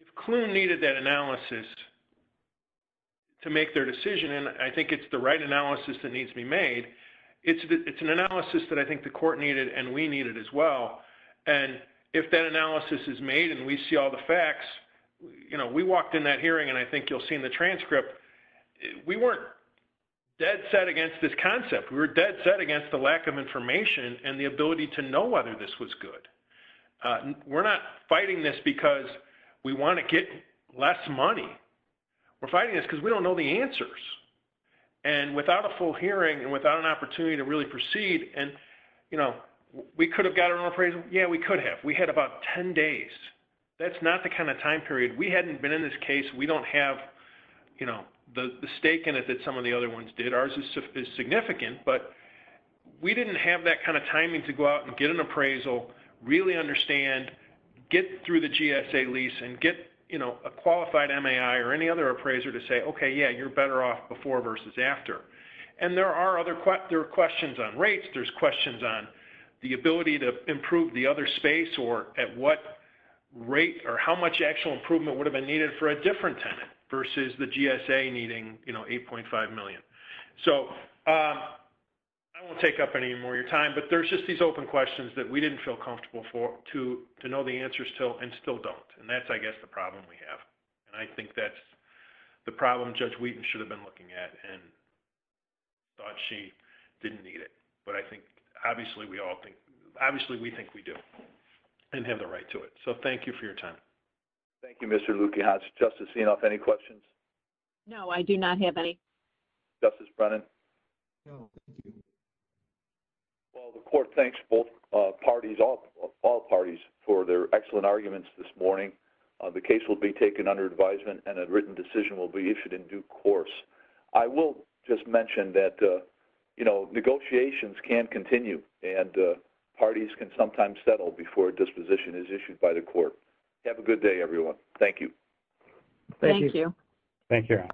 If Cloon needed that analysis to make their decision, it's an analysis that I think the court needed and we needed as well. And if that analysis is made and we see all the facts, you know, we walked in that hearing, and I think you'll see in the transcript, we weren't dead set against this concept. We were dead set against the lack of information and the ability to know whether this was good. We're not fighting this because we want to get less money. We're fighting this because we don't know the answers. And without a full hearing and without an opportunity to really proceed, and, you know, we could have gotten an appraisal. Yeah, we could have. We had about 10 days. That's not the kind of time period. We hadn't been in this case. We don't have, you know, the stake in it that some of the other ones did. Ours is significant. But we didn't have that kind of timing to go out and get an appraisal, really understand, get through the GSA lease and get, you know, a qualified MAI or any other appraiser to say, okay, yeah, you're better off before versus after. And there are other questions on rates. There's questions on the ability to improve the other space or at what rate or how much actual improvement would have been needed for a different tenant versus the GSA needing, you know, 8.5 million. So I won't take up any more of your time. But there's just these open questions that we didn't feel comfortable to know the problem we have. And I think that's the problem Judge Wheaton should have been looking at and thought she didn't need it. But I think, obviously, we all think, obviously, we think we do and have the right to it. So thank you for your time. Thank you, Mr. Lukiach. Justice Inouye, any questions? No, I do not have any. Justice Brennan? Well, the court thanks both parties, all parties for their excellent arguments this morning. The case will be taken under advisement and a written decision will be issued in due course. I will just mention that, you know, negotiations can continue and parties can sometimes settle before a disposition is issued by the court. Have a good day, everyone. Thank you. Thank you. Thank you.